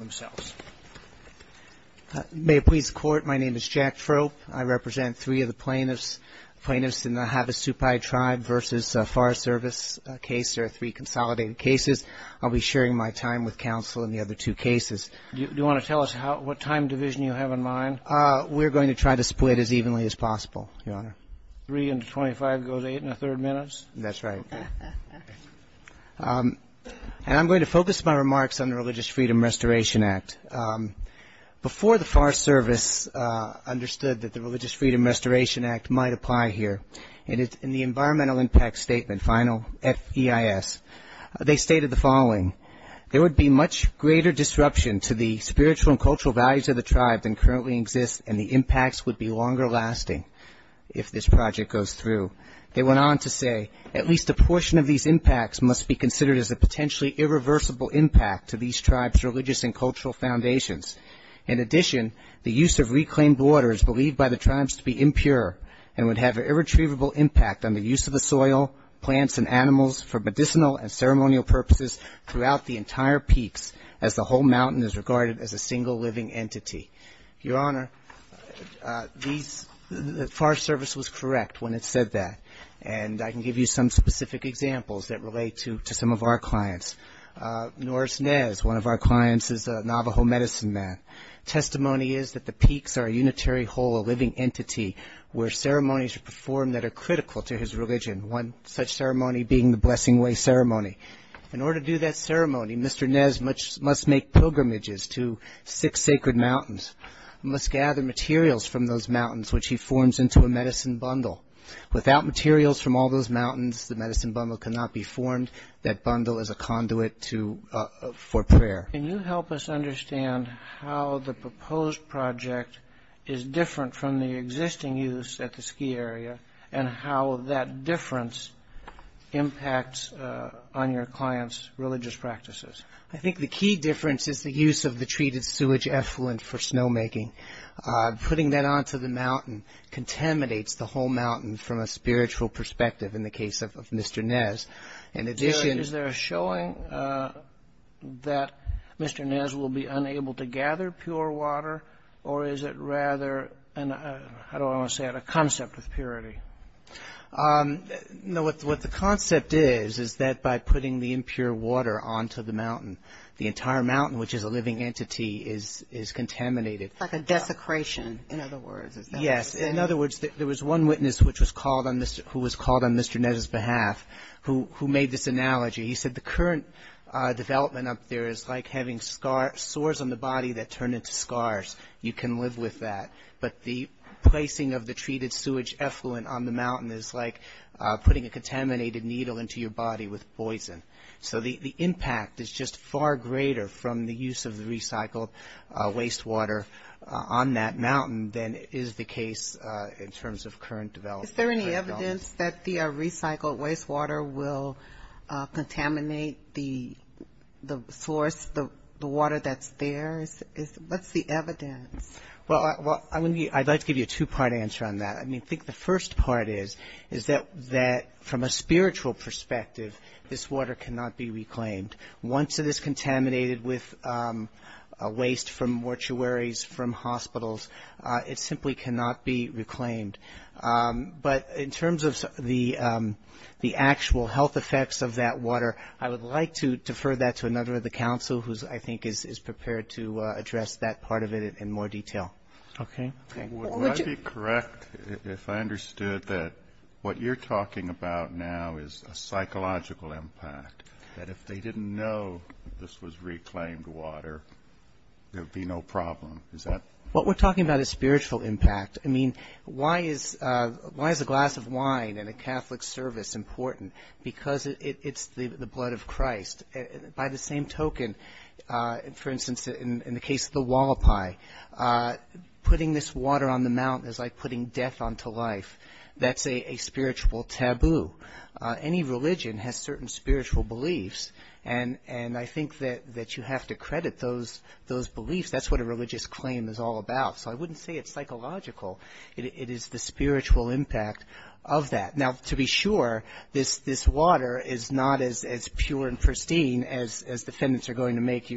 I represent three of the plaintiffs, plaintiffs in the Havasupai tribe v. Forest Service case, there are three consolidated cases. I'll be sharing my time with counsel in the other two cases. Do you want to tell us what time division you have in mind? We're going to try to split as evenly as possible, Your Honor. Three into twenty-five goes eight and a third minutes? That's right. And I'm going to focus my remarks on the Religious Freedom Restoration Act. Before the Forest Service understood that the Religious Freedom Restoration Act might apply here, in the environmental impact statement, final, F-E-I-S, they stated the following, there would be much greater disruption to the spiritual and cultural values of the tribe than currently exists and the impacts would be longer lasting if this project goes through. They went on to say, at least a portion of these impacts must be considered as a potentially irreversible impact to these tribes' religious and cultural foundations. In addition, the use of reclaimed water is believed by the tribes to be impure and would have an irretrievable impact on the use of the soil, plants and animals for medicinal and ceremonial purposes throughout the entire peaks as the whole mountain is regarded as a single living entity. Your Honor, the Forest Service was correct when it said that, and I can give you some specific examples that relate to some of our clients. Norris Nez, one of our clients, is a Navajo medicine man. Testimony is that the peaks are a unitary whole, a living entity, where ceremonies are performed that are critical to his religion, one such ceremony being the Blessing Way Ceremony. In order to do that ceremony, Mr. Nez must make pilgrimages to six sacred mountains, must gather materials from those mountains which he forms into a medicine bundle. Without materials from all those mountains, the medicine bundle cannot be formed. That bundle is a conduit for prayer. Can you help us understand how the proposed project is different from the existing use at the ski area and how that difference impacts on your client's religious practices? I think the key difference is the use of the treated sewage effluent for snowmaking. Putting that onto the mountain contaminates the whole mountain from a spiritual perspective, in the case of Mr. Nez. Is there a showing that Mr. Nez will be unable to gather pure water, or is it rather a concept of purity? What the concept is, is that by putting the impure water onto the mountain, the entire mountain, which is a living entity, is contaminated. It's like a desecration, in other words. Yes. In other words, there was one witness who was called on Mr. Nez's behalf, who made this analogy. He said the current development up there is like having sores on the body that turn into scars. You can live with that. But the placing of the treated sewage effluent on the mountain is like putting a contaminated needle into your body with poison. So the impact is just far greater from the use of the recycled wastewater on that mountain than is the case in terms of current development. Is there any evidence that the recycled wastewater will contaminate the source, the water that's there? What's the evidence? Well, I'd like to give you a two-part answer on that. I think the first part is that from a spiritual perspective, this water cannot be reclaimed. Once it is contaminated with waste from mortuaries, from hospitals, it simply cannot be reclaimed. But in terms of the actual health effects of that water, I would like to defer that to another of the council, who I think is prepared to address that part of it in more detail. Okay. Would I be correct if I understood that what you're talking about now is a psychological impact, that if they didn't know this was reclaimed water, there would be no problem? What we're talking about is spiritual impact. I mean, why is a glass of wine and a Catholic service important? Because it's the blood of Christ. By the same token, for instance, in the case of the wallopi, putting this water on the mountain is like putting death onto life. That's a spiritual taboo. Any religion has certain spiritual beliefs, and I think that you have to credit those beliefs. That's what a religious claim is all about. So I wouldn't say it's psychological. It is the spiritual impact of that. Now, to be sure, this water is not as pure and pristine as defendants are going to make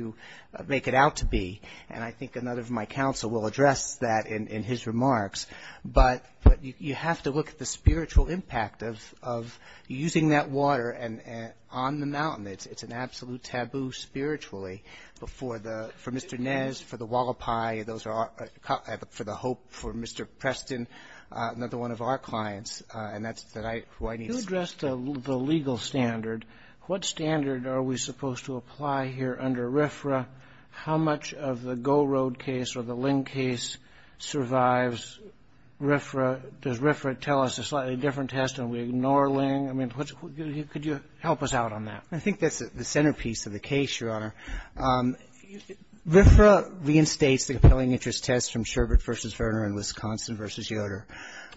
it out to be, and I think another of my council will address that in his remarks. But you have to look at the spiritual impact of using that water on the mountain. It's an absolute taboo spiritually. But for Mr. Nez, for the wallopi, for the hope, for Mr. Preston, another one of our clients, and that's who I need to speak to. You addressed the legal standard. What standard are we supposed to apply here under RFRA? How much of the Gold Road case or the Ling case survives RFRA? Does RFRA tell us a slightly different test and we ignore Ling? I mean, could you help us out on that? I think that's the centerpiece of the case, Your Honor. RFRA reinstates the compelling interest test from Sherbert v. Verner in Wisconsin v. Yoder.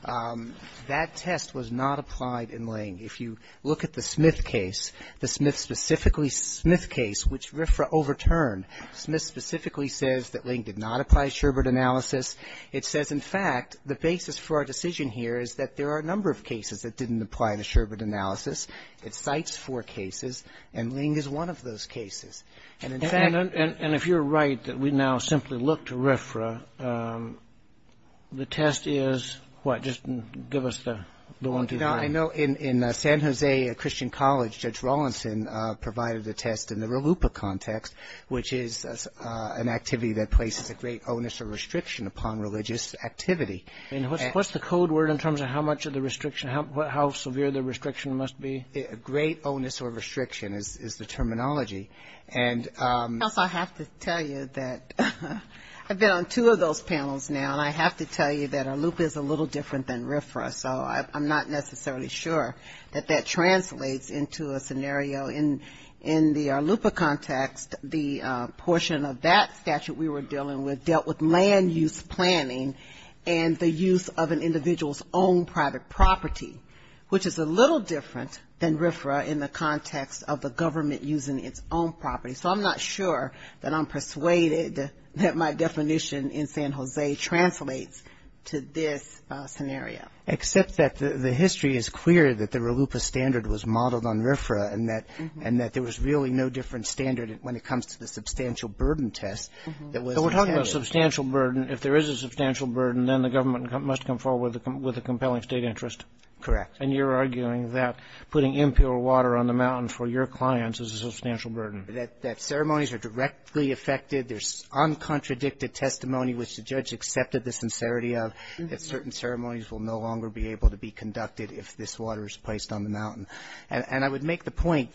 That test was not applied in Ling. If you look at the Smith case, the Smith specifically, Smith case, which RFRA overturned, Smith specifically says that Ling did not apply Sherbert analysis. It says, in fact, the basis for our decision here is that there are a number of cases that didn't apply to Sherbert analysis. It cites four cases, and Ling is one of those cases. And if you're right that we now simply look to RFRA, the test is what? Just give us the one, two, three. I know in San Jose Christian College, Judge Rawlinson provided the test in the RLUPA context, which is an activity that places a great onus or restriction upon religious activity. What's the code word in terms of how severe the restriction must be? Great onus or restriction is the terminology. I have to tell you that I've been on two of those panels now, and I have to tell you that RLUPA is a little different than RFRA, so I'm not necessarily sure that that translates into a scenario in the RLUPA context. The portion of that statute we were dealing with dealt with land use planning, and the use of an individual's own private property, which is a little different than RFRA in the context of the government using its own property. So I'm not sure that I'm persuaded that my definition in San Jose translates to this scenario. Except that the history is clear that the RLUPA standard was modeled on RFRA, and that there was really no different standard when it comes to the substantial burden test. So we're talking about substantial burden. If there is a substantial burden, then the government must come forward with a compelling state interest. Correct. And you're arguing that putting impure water on the mountain for your clients is a substantial burden. That ceremonies are directly affected. There's uncontradicted testimony which the judge accepted the sincerity of, that certain ceremonies will no longer be able to be conducted if this water is placed on the mountain. And I would make the point,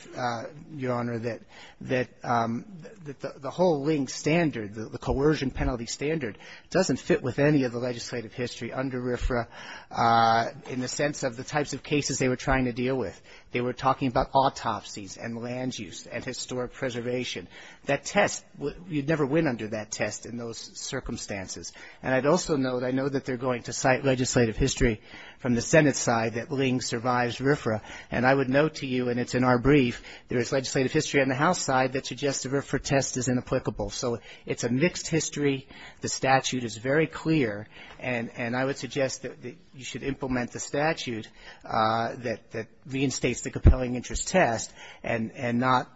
Your Honor, that the whole LING standard, the coercion penalty standard, doesn't fit with any of the legislative history under RFRA in the sense of the types of cases they were trying to deal with. They were talking about autopsies and land use and historic preservation. That test, you'd never win under that test in those circumstances. And I'd also note, I know that they're going to cite legislative history from the Senate side that LING survives RFRA, and I would note to you, and it's in our brief, there is legislative history on the House side that suggests the RFRA test is inapplicable. So it's a mixed history. The statute is very clear. And I would suggest that you should implement the statute that reinstates the compelling interest test and not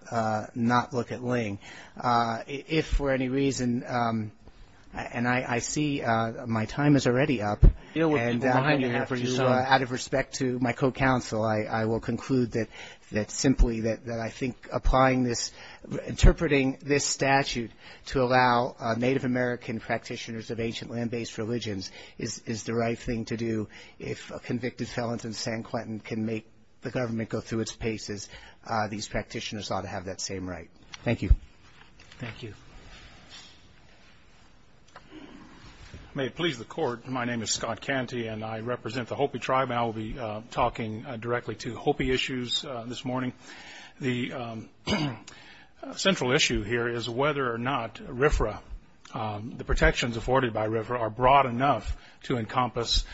look at LING. If for any reason, and I see my time is already up. And out of respect to my co-counsel, I will conclude that simply that I think applying this, interpreting this statute to allow Native American practitioners of ancient land-based religions is the right thing to do. If convicted felons in San Quentin can make the government go through its paces, these practitioners ought to have that same right. Thank you. Thank you. May it please the Court, my name is Scott Canty, and I represent the Hopi tribe. I will be talking directly to Hopi issues this morning. The central issue here is whether or not RFRA, the protections afforded by RFRA, are broad enough to encompass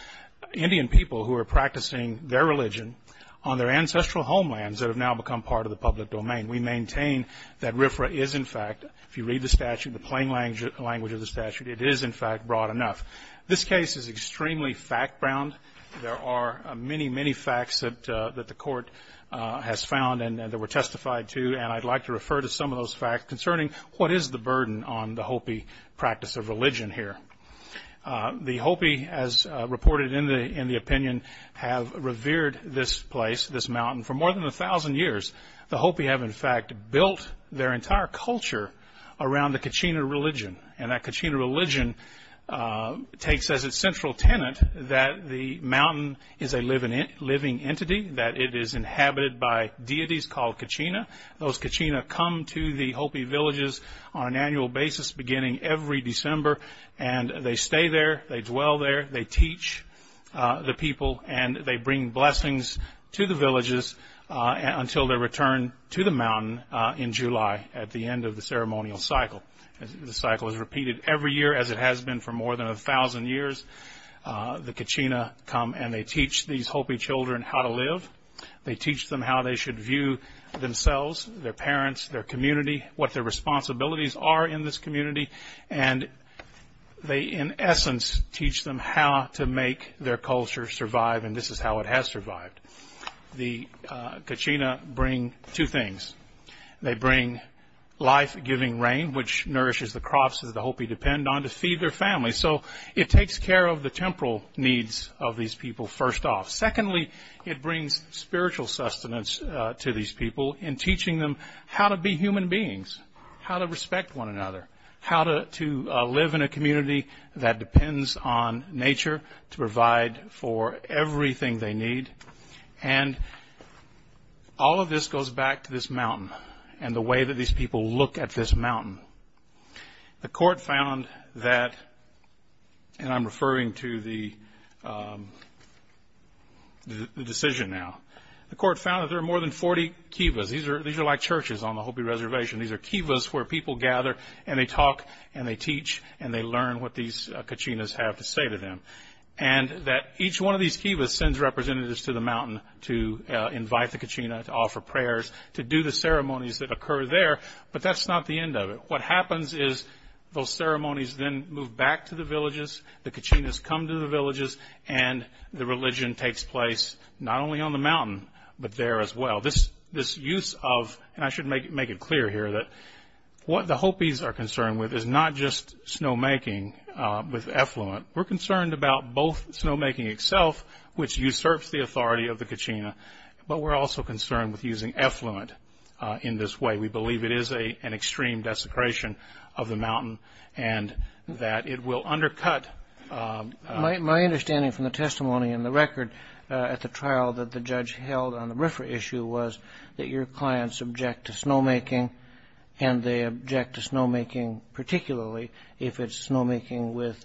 Indian people who are practicing their religion on their ancestral homelands that have now become part of the public domain. And we maintain that RFRA is, in fact, if you read the statute, the plain language of the statute, it is, in fact, broad enough. This case is extremely fact-bound. There are many, many facts that the Court has found and that were testified to, and I'd like to refer to some of those facts concerning what is the burden on the Hopi practice of religion here. The Hopi, as reported in the opinion, have revered this place, this mountain, for more than a thousand years. The Hopi have, in fact, built their entire culture around the Kachina religion, and that Kachina religion takes as its central tenet that the mountain is a living entity, that it is inhabited by deities called Kachina. Those Kachina come to the Hopi villages on an annual basis beginning every December, and they stay there, they dwell there, they teach the people, and they bring blessings to the villages until they return to the mountain in July at the end of the ceremonial cycle. The cycle is repeated every year, as it has been for more than a thousand years. The Kachina come and they teach these Hopi children how to live. They teach them how they should view themselves, their parents, their community, what their responsibilities are in this community, and they, in essence, teach them how to make their culture survive, and this is how it has survived. The Kachina bring two things. They bring life-giving rain, which nourishes the crops that the Hopi depend on to feed their families, so it takes care of the temporal needs of these people first off. Secondly, it brings spiritual sustenance to these people in teaching them how to be human beings, how to respect one another, how to live in a community that depends on nature to provide for everything they need, and all of this goes back to this mountain and the way that these people look at this mountain. The court found that, and I'm referring to the decision now. The court found that there are more than 40 kiva. These are like churches on the Hopi Reservation. These are kivas where people gather and they talk and they teach and they learn what these Kachinas have to say to them, and that each one of these kivas sends representatives to the mountain to invite the Kachina, to offer prayers, to do the ceremonies that occur there, but that's not the end of it. What happens is those ceremonies then move back to the villages. The Kachinas come to the villages, and the religion takes place not only on the mountain but there as well. This use of, and I should make it clear here, that what the Hopis are concerned with is not just snowmaking with effluent. We're concerned about both snowmaking itself, which usurps the authority of the Kachina, but we're also concerned with using effluent in this way. We believe it is an extreme desecration of the mountain and that it will undercut... that your clients object to snowmaking, and they object to snowmaking particularly if it's snowmaking with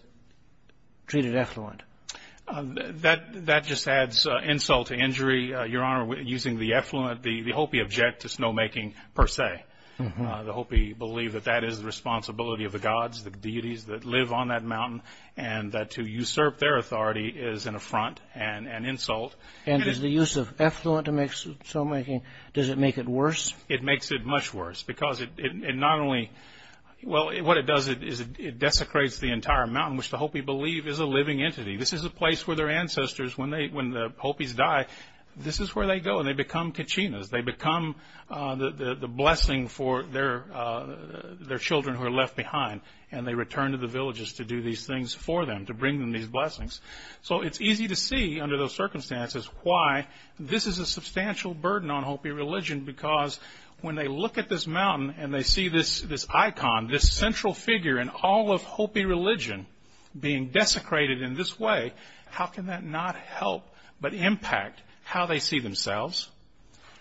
treated effluent. That just adds insult to injury, Your Honor, using the effluent. The Hopi object to snowmaking per se. The Hopi believe that that is the responsibility of the gods, the deities that live on that mountain, and that to usurp their authority is an affront and an insult. Does the use of effluent to make snowmaking, does it make it worse? It makes it much worse because it not only... What it does is it desecrates the entire mountain, which the Hopi believe is a living entity. This is a place where their ancestors, when the Hopis die, this is where they go. They become Kachinas. They become the blessing for their children who are left behind, and they return to the villages to do these things for them, to bring them these blessings. It's easy to see under those circumstances why this is a substantial burden on Hopi religion because when they look at this mountain and they see this icon, this central figure in all of Hopi religion being desecrated in this way, how can that not help but impact how they see themselves,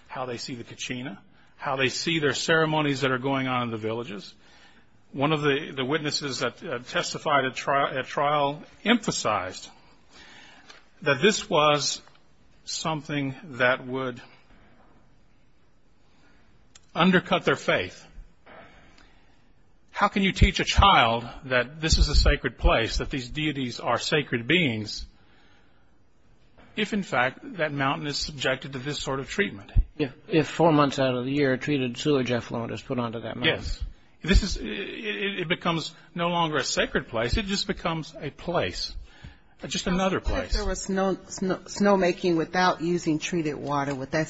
how they see the Kachina, how they see their ceremonies that are going on in the villages? One of the witnesses that testified at trial emphasized that this was something that would undercut their faith. How can you teach a child that this is a sacred place, that these deities are sacred beings, if in fact that mountain is subjected to this sort of treatment? If four months out of the year treated sewage effluent is put onto that mountain? Yes. It becomes no longer a sacred place. It just becomes a place, just another place. If there was no snowmaking without using treated water, would there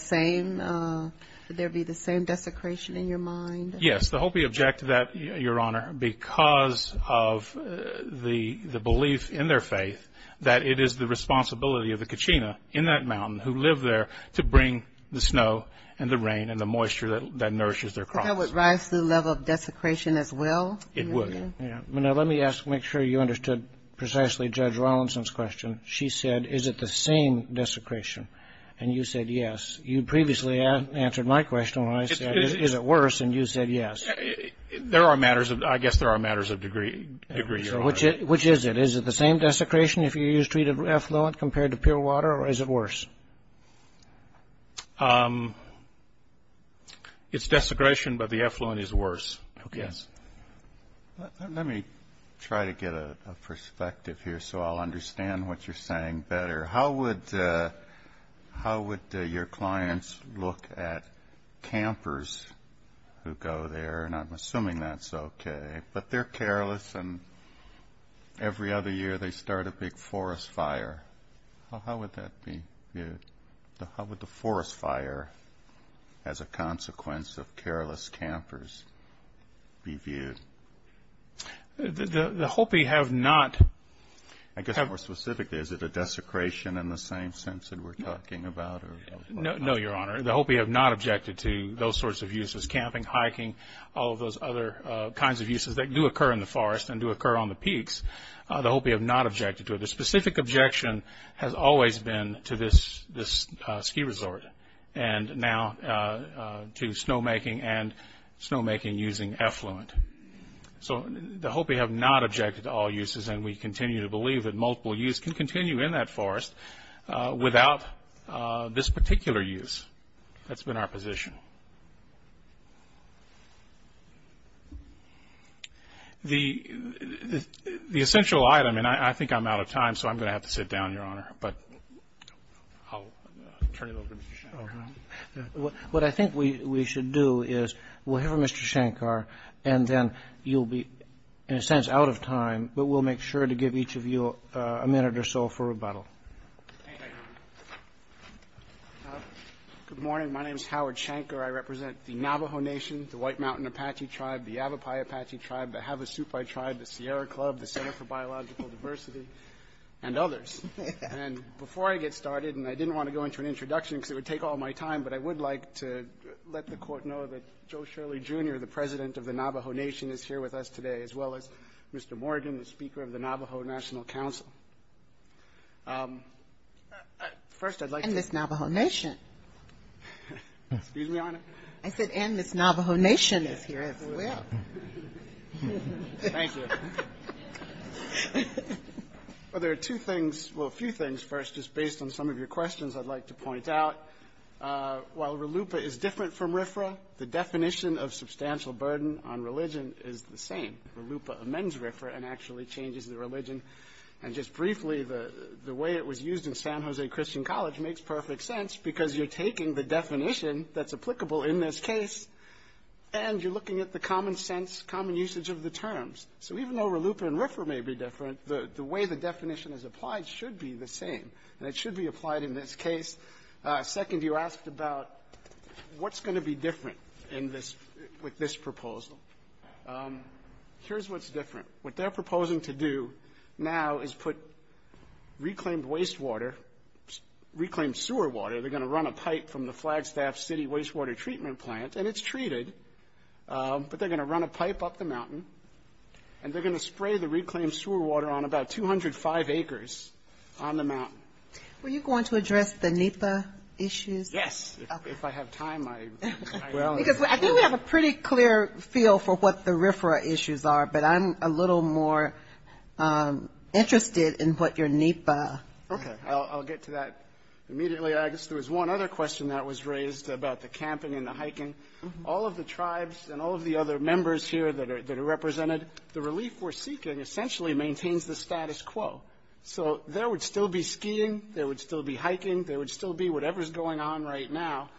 be the same desecration in your mind? Yes. The Hopi object to that, Your Honor, because of the belief in their faith that it is the responsibility of the Kachina in that mountain who live there to bring the snow and the rain and the moisture that nourishes their crops. Would that rise to the level of desecration as well? It would. Now, let me make sure you understood precisely Judge Rawlinson's question. She said, is it the same desecration? And you said yes. You previously answered my question when I said, is it worse? And you said yes. I guess there are matters of degree. Which is it? Is it the same desecration? If you use treated effluent compared to pure water, or is it worse? It's desecration, but the effluent is worse, I guess. Let me try to get a perspective here so I'll understand what you're saying better. How would your clients look at campers who go there? And I'm assuming that's okay. But they're careless. And every other year they start a big forest fire. How would that be viewed? How would the forest fire as a consequence of careless campers be viewed? The Hopi have not... I guess more specifically, is it a desecration in the same sense that we're talking about? No, Your Honor. The Hopi have not objected to those sorts of uses, camping, hiking, all of those other kinds of uses that do occur in the forest and do occur on the peaks. The Hopi have not objected to it. The specific objection has always been to this ski resort, and now to snowmaking and snowmaking using effluent. So the Hopi have not objected to all uses, and we continue to believe that multiple use can continue in that forest without this particular use. That's been our position. The essential item, and I think I'm out of time, so I'm going to have to sit down, Your Honor, but I'll turn it over to Mr. Shankar. What I think we should do is we'll hear from Mr. Shankar, and then you'll be, in a sense, out of time, but we'll make sure to give each of you a minute or so for rebuttal. Good morning. My name is Howard Shankar. I represent the Navajo Nation, the White Mountain Apache Tribe, the Yavapai Apache Tribe, the Havasupai Tribe, the Sierra Club, the Center for Biological Diversity, and others. Before I get started, and I didn't want to go into an introduction because it would take all my time, but I would like to let the Court know that Joe Shirley, Jr., the President of the Navajo Nation, is here with us today, as well as Mr. Morgan, the Speaker of the Navajo National Council. First, I'd like to... And Miss Navajo Nation. Excuse me, Your Honor? I said, and Miss Navajo Nation is here as well. Thank you. There are two things, well, a few things first, just based on some of your questions I'd like to point out. While RLUIPA is different from RFRA, the definition of substantial burden on religion is the same. RLUIPA amends RFRA and actually changes the religion. And just briefly, the way it was used in San Jose Christian College makes perfect sense because you're taking the definition that's applicable in this case and you're looking at the common sense, common usage of the terms. So even though RLUIPA and RFRA may be different, the way the definition is applied should be the same. That should be applied in this case. Second, you asked about what's going to be different with this proposal. Here's what's different. What they're proposing to do now is put reclaimed wastewater, reclaimed sewer water, they're going to run a pipe from the Flagstaff City Wastewater Treatment Plant, and it's treated, and they're going to spray the reclaimed sewer water on about 205 acres on the mountain. Were you going to address the NEPA issues? Yes. If I have time, I will. I think we have a pretty clear feel for what the RFRA issues are, but I'm a little more interested in what your NEPA. Okay. I'll get to that immediately. I guess there was one other question that was raised about the camping and the hiking. All of the tribes and all of the other members here that are represented, the relief we're seeking essentially maintains the status quo. So there would still be skiing, there would still be hiking, there would still be whatever's going on right now.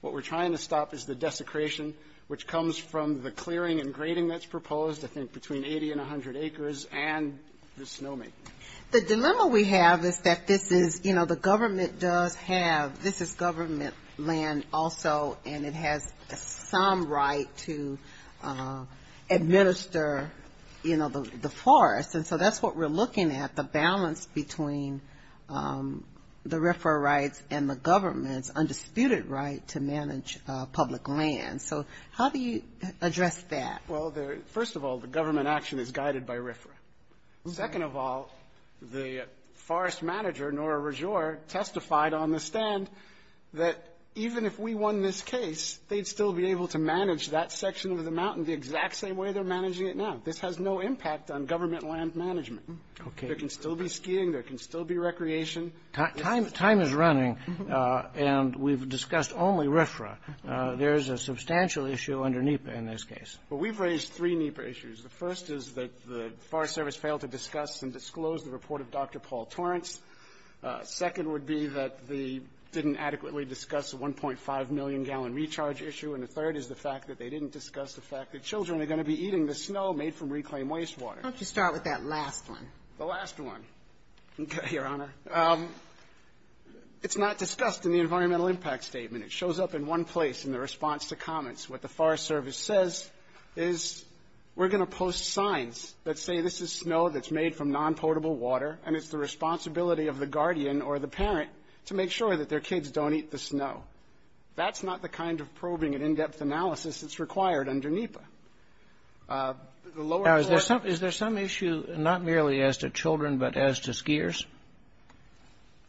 What we're trying to stop is the desecration, which comes from the clearing and grading that's proposed, I think between 80 and 100 acres, and the snowmaking. The dilemma we have is that this is, you know, the government does have, this is government land also, and it has some right to administer, you know, the forest. And so that's what we're looking at, the balance between the RFRA rights and the government's undisputed right to manage public land. So how do you address that? Well, first of all, the government action is guided by RFRA. Second of all, the forest manager, Nora Rajour, testified on the stand that even if we won this case, they'd still be able to manage that section of the mountain the exact same way they're managing it now. This has no impact on government land management. There can still be skiing, there can still be recreation. Time is running, and we've discussed only RFRA. There is a substantial issue under NEPA in this case. Well, we've raised three NEPA issues. The first is that the Forest Service failed to discuss and disclose the report of Dr. Paul Torrance. Second would be that they didn't adequately discuss the 1.5 million gallon recharge issue. And the third is the fact that they didn't discuss the fact that children are going to be eating the snow made from reclaimed wastewater. Why don't you start with that last one? The last one. Okay, Your Honor. It's not discussed in the environmental impact statement. It shows up in one place in the response to comments. What the Forest Service says is we're going to post signs that say this is snow that's made from non-potable water, and it's the responsibility of the guardian or the parent to make sure that their kids don't eat the snow. That's not the kind of probing and in-depth analysis that's required under NEPA. Is there some issue not merely as to children but as to skiers?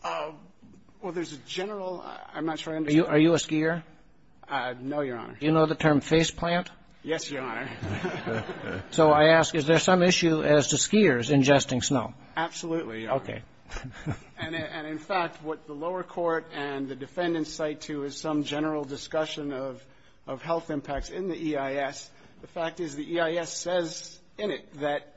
Well, there's a general – I'm not sure I understand. Are you a skier? No, Your Honor. Do you know the term face plant? Yes, Your Honor. So I ask, is there some issue as to skiers ingesting snow? Absolutely, Your Honor. Okay. And, in fact, what the lower court and the defendants cite to is some general discussion of health impacts in the EIS. The fact is the EIS says in it that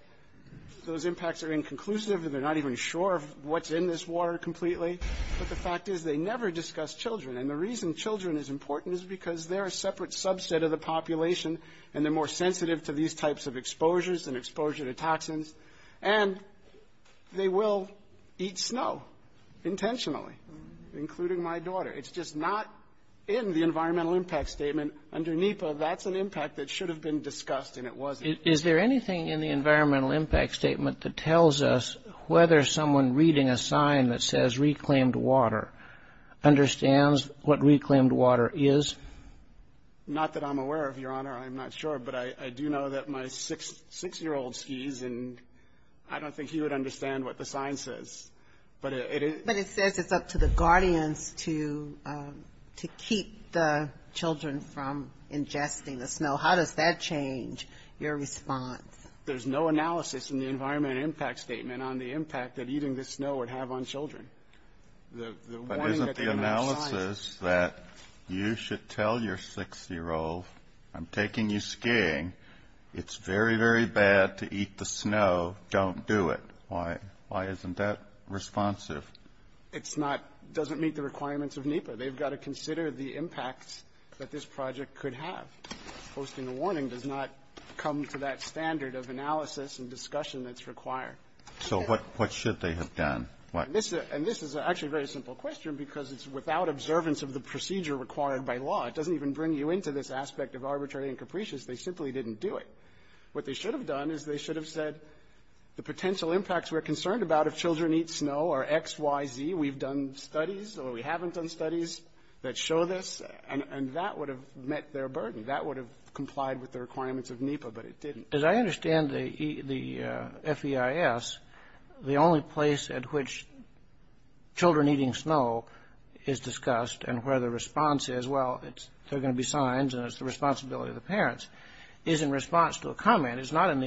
those impacts are inconclusive and they're not even sure what's in this water completely. But the fact is they never discuss children, and the reason children is important is because they're a separate subset of the population and they're more sensitive to these types of exposures and exposure to toxins, and they will eat snow intentionally, including my daughter. It's just not in the environmental impact statement. Under NEPA, that's an impact that should have been discussed and it wasn't. Is there anything in the environmental impact statement that tells us whether someone reading a sign that says reclaimed water understands what reclaimed water is? Not that I'm aware of, Your Honor. I'm not sure. But I do know that my six-year-old skis, and I don't think he would understand what the sign says. But it says it's up to the guardians to keep the children from ingesting the snow. How does that change your response? There's no analysis in the environmental impact statement on the impact that eating the snow would have on children. But isn't the analysis that you should tell your six-year-old I'm taking you skiing, it's very, very bad to eat the snow, don't do it, why isn't that responsive? It doesn't meet the requirements of NEPA. They've got to consider the impact that this project could have. Posting a warning does not come to that standard of analysis and discussion that's required. So what should they have done? And this is actually a very simple question because it's without observance of the procedure required by law. It doesn't even bring you into this aspect of arbitrary and capricious. They simply didn't do it. What they should have done is they should have said the potential impacts we're concerned about if children eat snow are X, Y, Z. We've done studies or we haven't done studies that show this. And that would have met their burden. That would have complied with the requirements of NEPA, but it didn't. As I understand the FEIS, the only place at which children eating snow is discussed and where the response is, well, there are going to be signs and it's the responsibility of the parents, is in response to a comment. It's not in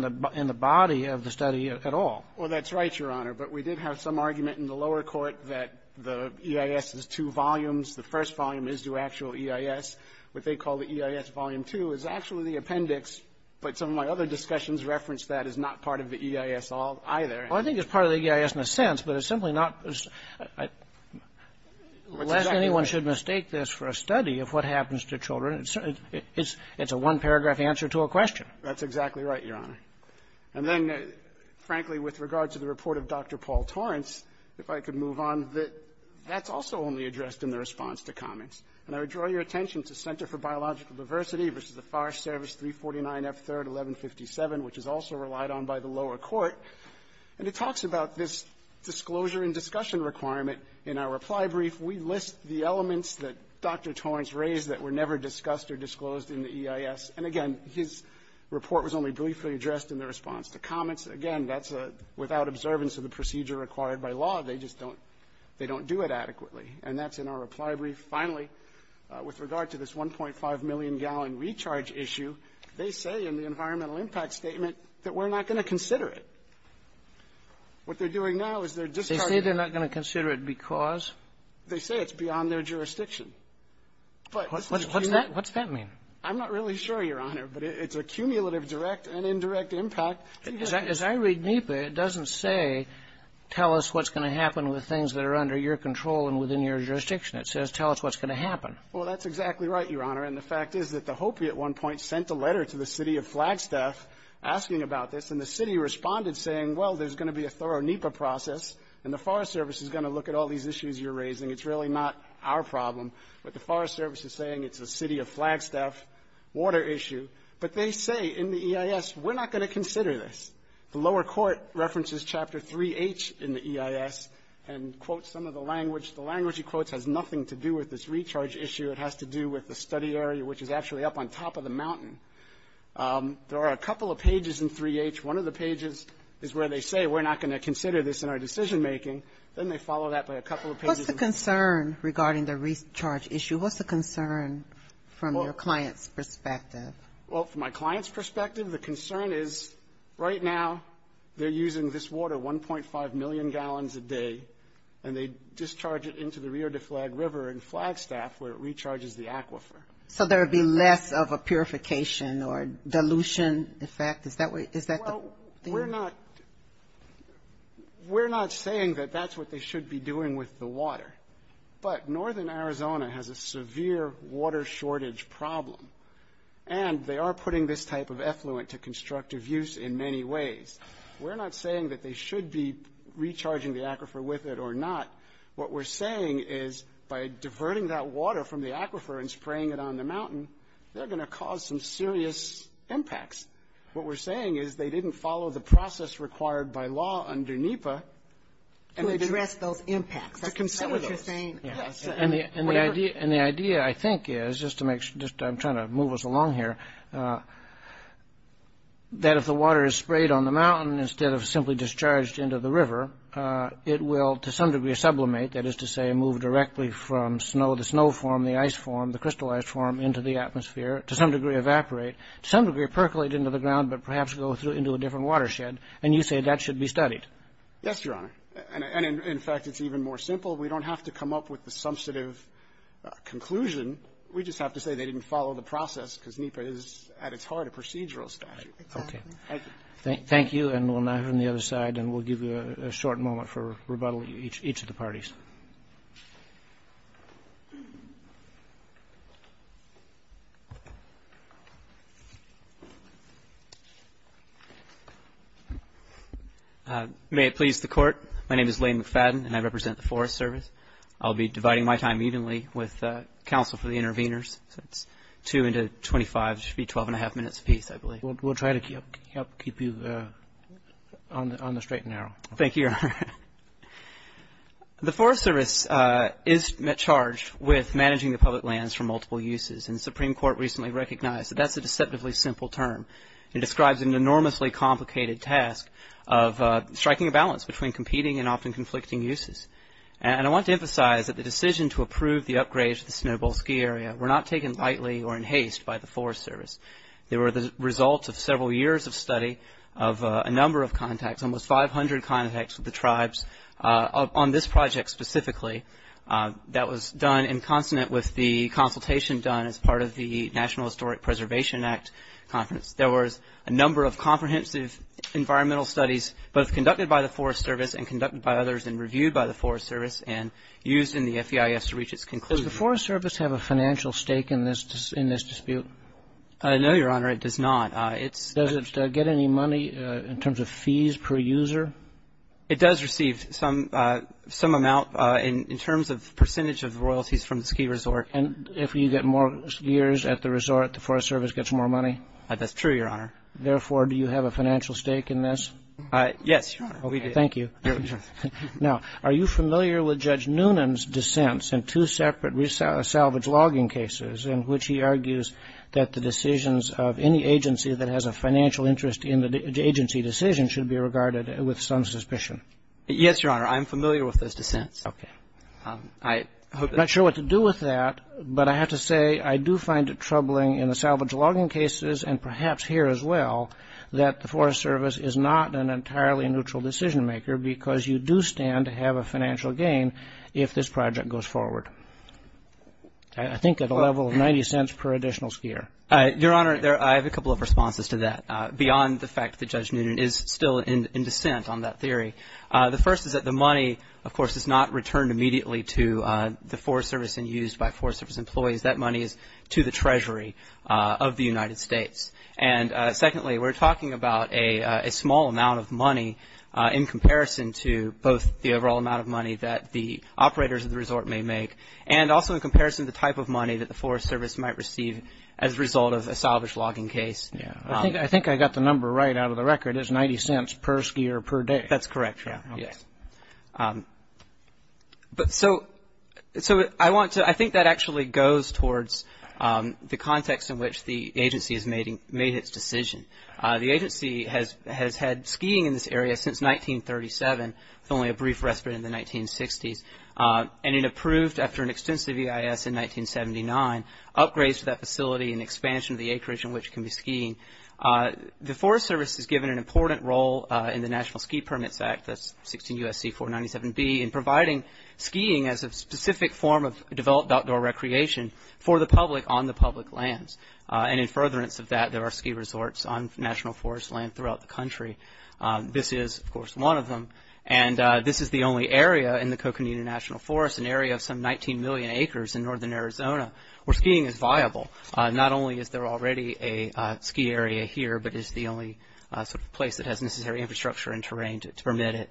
the body of the study at all. Well, that's right, Your Honor. But we did have some argument in the lower court that the EIS is two volumes. The first volume is the actual EIS. What they call the EIS volume two is actually the appendix, but some of my other discussions reference that as not part of the EIS either. Well, I think it's part of the EIS in a sense, but it's simply not. Unless anyone should mistake this for a study of what happens to children, it's a one-paragraph answer to a question. That's exactly right, Your Honor. And then, frankly, with regard to the report of Dr. Paul Torrance, if I could move on, that that's also only addressed in the response to comments. And I would draw your attention to Center for Biological Diversity versus the Forest Service 349F3rd 1157, which is also relied on by the lower court, and it talks about this disclosure and discussion requirement. In our reply brief, we list the elements that Dr. Torrance raised that were never discussed or disclosed in the EIS. And, again, his report was only briefly addressed in the response to comments. Again, that's without observance of the procedure required by law. They just don't do it adequately, and that's in our reply brief. Finally, with regard to this 1.5 million gallon recharge issue, they say in the environmental impact statement that we're not going to consider it. What they're doing now is they're discharging it. They say they're not going to consider it because? They say it's beyond their jurisdiction. What's that mean? I'm not really sure, Your Honor, but it's a cumulative direct and indirect impact. As I read NEPA, it doesn't say tell us what's going to happen with things that are under your control and within your jurisdiction. It says tell us what's going to happen. Well, that's exactly right, Your Honor, and the fact is that the Hopi at one point sent a letter to the city of Flagstaff asking about this, and the city responded saying, well, there's going to be a thorough NEPA process, and the Forest Service is going to look at all these issues you're raising. It's really not our problem. But the Forest Service is saying it's the city of Flagstaff water issue, but they say in the EIS we're not going to consider this. The lower court references Chapter 3H in the EIS and quotes some of the language. The language he quotes has nothing to do with this recharge issue. It has to do with the study area, which is actually up on top of the mountain. There are a couple of pages in 3H. One of the pages is where they say we're not going to consider this in our decision making. Then they follow that by a couple of pages. What's the concern regarding the recharge issue? What's the concern from your client's perspective? Well, from my client's perspective, the concern is right now they're using this water, 1.5 million gallons a day, and they discharge it into the Rio de Flag River in Flagstaff where it recharges the aquifer. So there would be less of a purification or dilution effect? Is that the thing? We're not saying that that's what they should be doing with the water, but northern Arizona has a severe water shortage problem, and they are putting this type of effluent to constructive use in many ways. We're not saying that they should be recharging the aquifer with it or not. What we're saying is by diverting that water from the aquifer and spraying it on the mountain, they're going to cause some serious impacts. What we're saying is they didn't follow the process required by law under NEPA to address those impacts. That's what you're saying. The idea, I think, is, just to make sure, I'm trying to move us along here, that if the water is sprayed on the mountain instead of simply discharged into the river, it will to some degree sublimate, that is to say move directly from the snow form, the ice form, the crystal ice form into the atmosphere, to some degree evaporate, to some degree percolate into the ground, but perhaps go into a different watershed, and you say that should be studied. Yes, Your Honor. In fact, it's even more simple. We don't have to come up with a substantive conclusion. We just have to say they didn't follow the process because NEPA is at its heart a procedural study. Okay. Thank you. We'll now turn to the other side, and we'll give you a short moment for rebuttal from each of the parties. May it please the Court, my name is William McFadden, and I represent the Forest Service. I'll be dividing my time evenly with counsel for the interveners. It's 2 into 25. It should be a 12-and-a-half-minute piece, I believe. We'll try to help keep you on the straight and narrow. Thank you, Your Honor. The Forest Service is charged with managing the public lands for multiple uses, and the Supreme Court recently recognized that that's a deceptively simple term. It describes an enormously complicated task of striking a balance between competing and often conflicting uses. And I want to emphasize that the decision to approve the upgrades to the Snow Bowl Ski Area were not taken lightly or in haste by the Forest Service. They were the result of several years of study of a number of contacts, almost 500 contacts with the tribes on this project specifically. That was done in consonant with the consultation done as part of the National Historic Preservation Act. There was a number of comprehensive environmental studies, both conducted by the Forest Service and conducted by others and reviewed by the Forest Service and used in the FEIS to reach its conclusion. Does the Forest Service have a financial stake in this dispute? No, Your Honor, it does not. Does it get any money in terms of fees per user? It does receive some amount in terms of percentage of royalties from the ski resort. And if you get more years at the resort, the Forest Service gets more money? That's true, Your Honor. Therefore, do you have a financial stake in this? Yes, Your Honor. Thank you. Now, are you familiar with Judge Noonan's dissents in two separate salvage logging cases in which he argues that the decisions of any agency that has a financial interest in the agency decision should be regarded with some suspicion? Yes, Your Honor, I'm familiar with those dissents. I'm not sure what to do with that, but I have to say I do find it troubling in the salvage logging cases and perhaps here as well that the Forest Service is not an entirely neutral decision maker because you do stand to have a financial gain if this project goes forward. I think at a level of 90 cents per additional skier. Your Honor, I have a couple of responses to that beyond the fact that Judge Noonan is still in dissent on that theory. The first is that the money, of course, is not returned immediately to the Forest Service and used by Forest Service employees. That money is to the Treasury of the United States. And secondly, we're talking about a small amount of money in comparison to both the overall amount of money that the operators of the resort may make and also in comparison to the type of money that the Forest Service might receive as a result of a salvage logging case. I think I got the number right out of the record. It's 90 cents per skier per day. That's correct, Your Honor. So I think that actually goes towards the context in which the agency has made its decision. The agency has had skiing in this area since 1937. It's only a brief respite in the 1960s. And it approved, after an extensive EIS in 1979, upgrades to that facility and expansion of the acreage in which it can be skied. The Forest Service has given an important role in the National Ski Permit Act, that's 16 U.S.C. 497B, in providing skiing as a specific form of developed outdoor recreation for the public on the public lands. And in furtherance of that, there are ski resorts on national forest land throughout the country. This is, of course, one of them. And this is the only area in the Coconino National Forest, an area of some 19 million acres in northern Arizona, where skiing is viable. Not only is there already a ski area here, but it's the only place that has necessary infrastructure and terrain to permit it.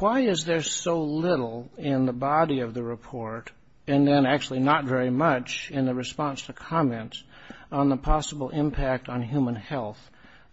Why is there so little in the body of the report, and then actually not very much in the response to comments, on the possible impact on human health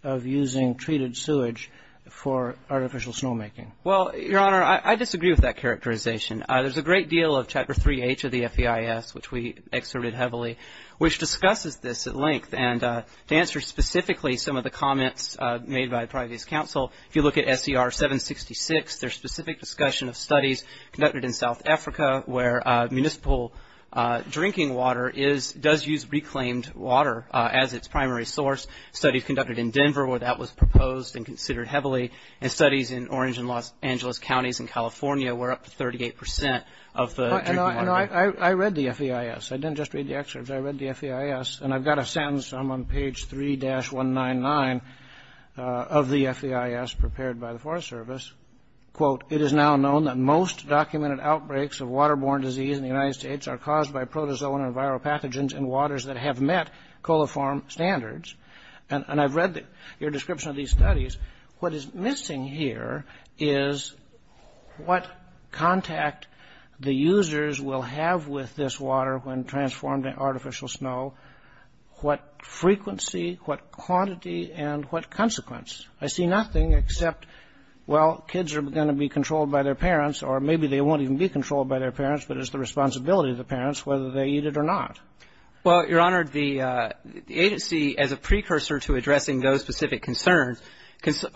of using treated sewage for artificial snowmaking? Well, Your Honor, I disagree with that characterization. There's a great deal of Chapter 3H of the FEIS, which we excerpted heavily, which discusses this at length. And to answer specifically some of the comments made by the Privacy Council, if you look at SDR 766, there's specific discussion of studies conducted in South Africa, where municipal drinking water does use reclaimed water as its primary source. Studies conducted in Denver, where that was proposed and considered heavily, and studies in Orange and Los Angeles counties in California, where up to 38% of the drinking water- I read the FEIS. I didn't just read the excerpts, I read the FEIS. And I've got a sentence on page 3-199 of the FEIS prepared by the Forest Service. Quote, it is now known that most documented outbreaks of waterborne disease in the United States are caused by protozoan and viral pathogens in waters that have met coliform standards. And I've read your description of these studies. What is missing here is what contact the users will have with this water when transformed into artificial snow, what frequency, what quantity, and what consequence. I see nothing except, well, kids are going to be controlled by their parents, or maybe they won't even be controlled by their parents, but it's the responsibility of the parents whether they eat it or not. Well, Your Honor, the agency, as a precursor to addressing those specific concerns,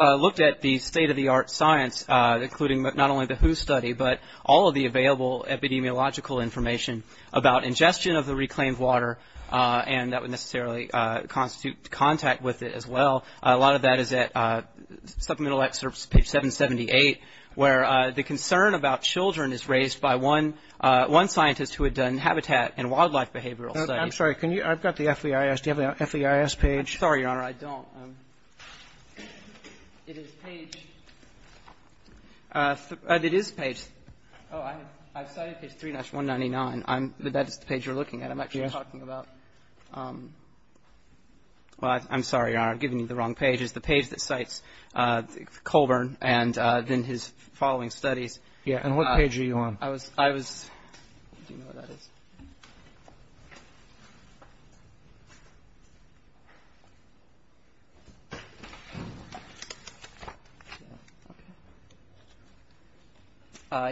looked at the state-of-the-art science, including not only the WHO study, but all of the available epidemiological information about ingestion of the reclaimed water, and that would necessarily constitute contact with it as well. A lot of that is at supplemental excerpts, page 778, where the concern about children is raised by one scientist who had done habitat and wildlife behavioral studies. I'm sorry, I've got the FEIS. Do you have the FEIS page? I'm sorry, Your Honor, I don't. It is page... It is page... Oh, I thought it said 3-199. The page you're looking at, I'm actually talking about... Well, I'm sorry, Your Honor, I've given you the wrong page. It's the page that cites Colburn and then his following study. Yeah, and what page are you on? I was...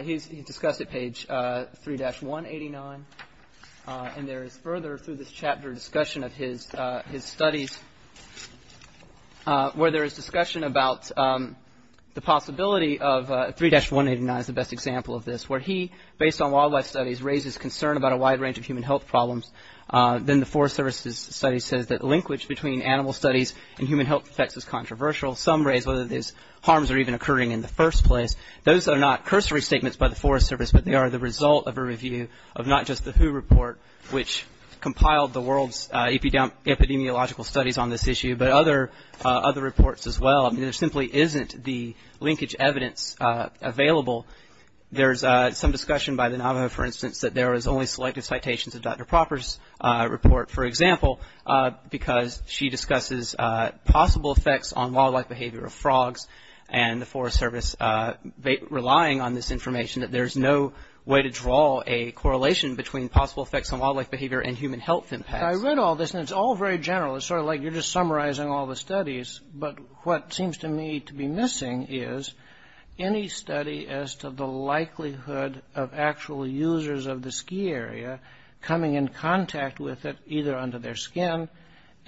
He discussed it, page 3-189, and there is further, through this chapter, discussion of his studies, where there is discussion about the possibility of... 3-189 is the best example of this, where he, based on wildlife studies, raises concern about a wide range of human health problems. Then the Forest Service study says that the linkage between animal studies and human health effects is controversial. Some raise whether these harms are even occurring in the first place. Those are not cursory statements by the Forest Service, but they are the result of a review of not just the WHO report, which compiled the world's epidemiological studies on this issue, but other reports as well. There simply isn't the linkage evidence available. There's some discussion by the Navajo, for instance, that there is only selected citations of Dr. Propper's report, for example, because she discusses possible effects on wildlife behavior of frogs, and the Forest Service relying on this information that there is no way to draw a correlation between possible effects on wildlife behavior and human health impacts. I read all this, and it's all very general. It's sort of like you're just summarizing all the studies, but what seems to me to be missing is any study as to the likelihood of actual users of the ski area coming in contact with it, either under their skin,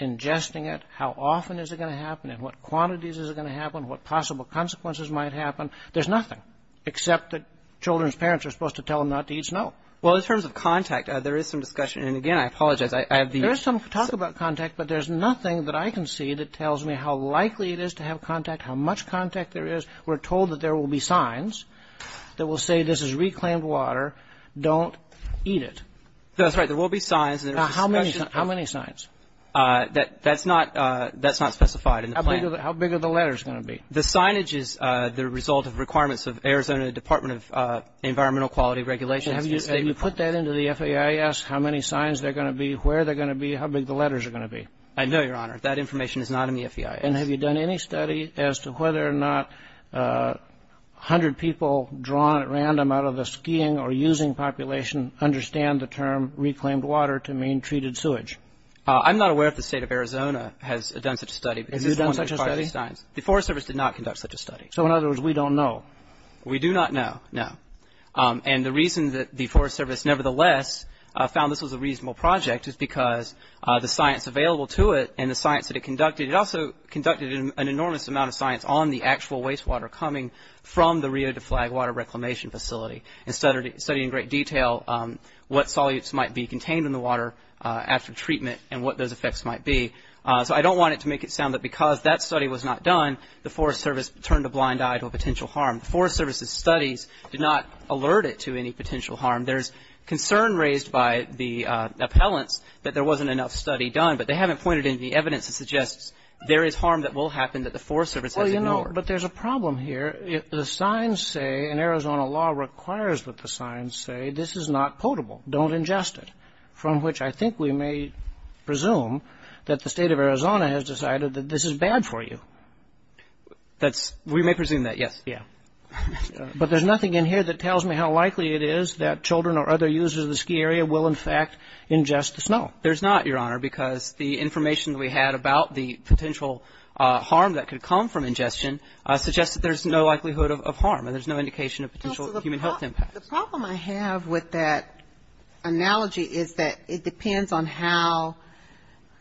ingesting it, how often is it going to happen, in what quantities is it going to happen, what possible consequences might happen. There's nothing, except that children's parents are supposed to tell them not to eat snow. Well, in terms of contact, there is some discussion, and again, I apologize. There's some talk about contact, but there's nothing that I can see that tells me how likely it is to have contact, how much contact there is. We're told that there will be signs that will say this is reclaimed water. Don't eat it. That's right. There will be signs. Now, how many signs? That's not specified in the plan. How big are the letters going to be? The signage is the result of requirements of Arizona Department of Environmental Quality Regulation. Have you put that into the FAIS, how many signs there are going to be, where they're going to be, how big the letters are going to be? I know, Your Honor, that information is not in the FEI. And have you done any study as to whether or not 100 people drawn at random out of a skiing or using population understand the term reclaimed water to mean treated sewage? I'm not aware if the state of Arizona has done such a study. Have you done such a study? The Forest Service did not conduct such a study. So, in other words, we don't know. We do not know, no. And the reason that the Forest Service, nevertheless, found this was a reasonable project is because the science available to it and the science that it conducted, it also conducted an enormous amount of science on the actual wastewater coming from the Rio de Flag Water Reclamation Facility and studied in great detail what solutes might be contained in the water after treatment and what those effects might be. So I don't want it to make it sound that because that study was not done, the Forest Service turned a blind eye to a potential harm. The Forest Service's studies did not alert it to any potential harm. There's concern raised by the appellant that there wasn't enough study done, but they haven't pointed any evidence that suggests there is harm that will happen that the Forest Service has ignored. Well, you know, but there's a problem here. The signs say, and Arizona law requires that the signs say, this is not potable. Don't ingest it. From which I think we may presume that the state of Arizona has decided that this is bad for you. We may presume that, yes. But there's nothing in here that tells me how likely it is that children or other users of the ski area will, in fact, ingest the snow. There's not, Your Honor, because the information we had about the potential harm that could come from ingestion suggests that there's no likelihood of harm and there's no indication of potential human health impact. The problem I have with that analogy is that it depends on how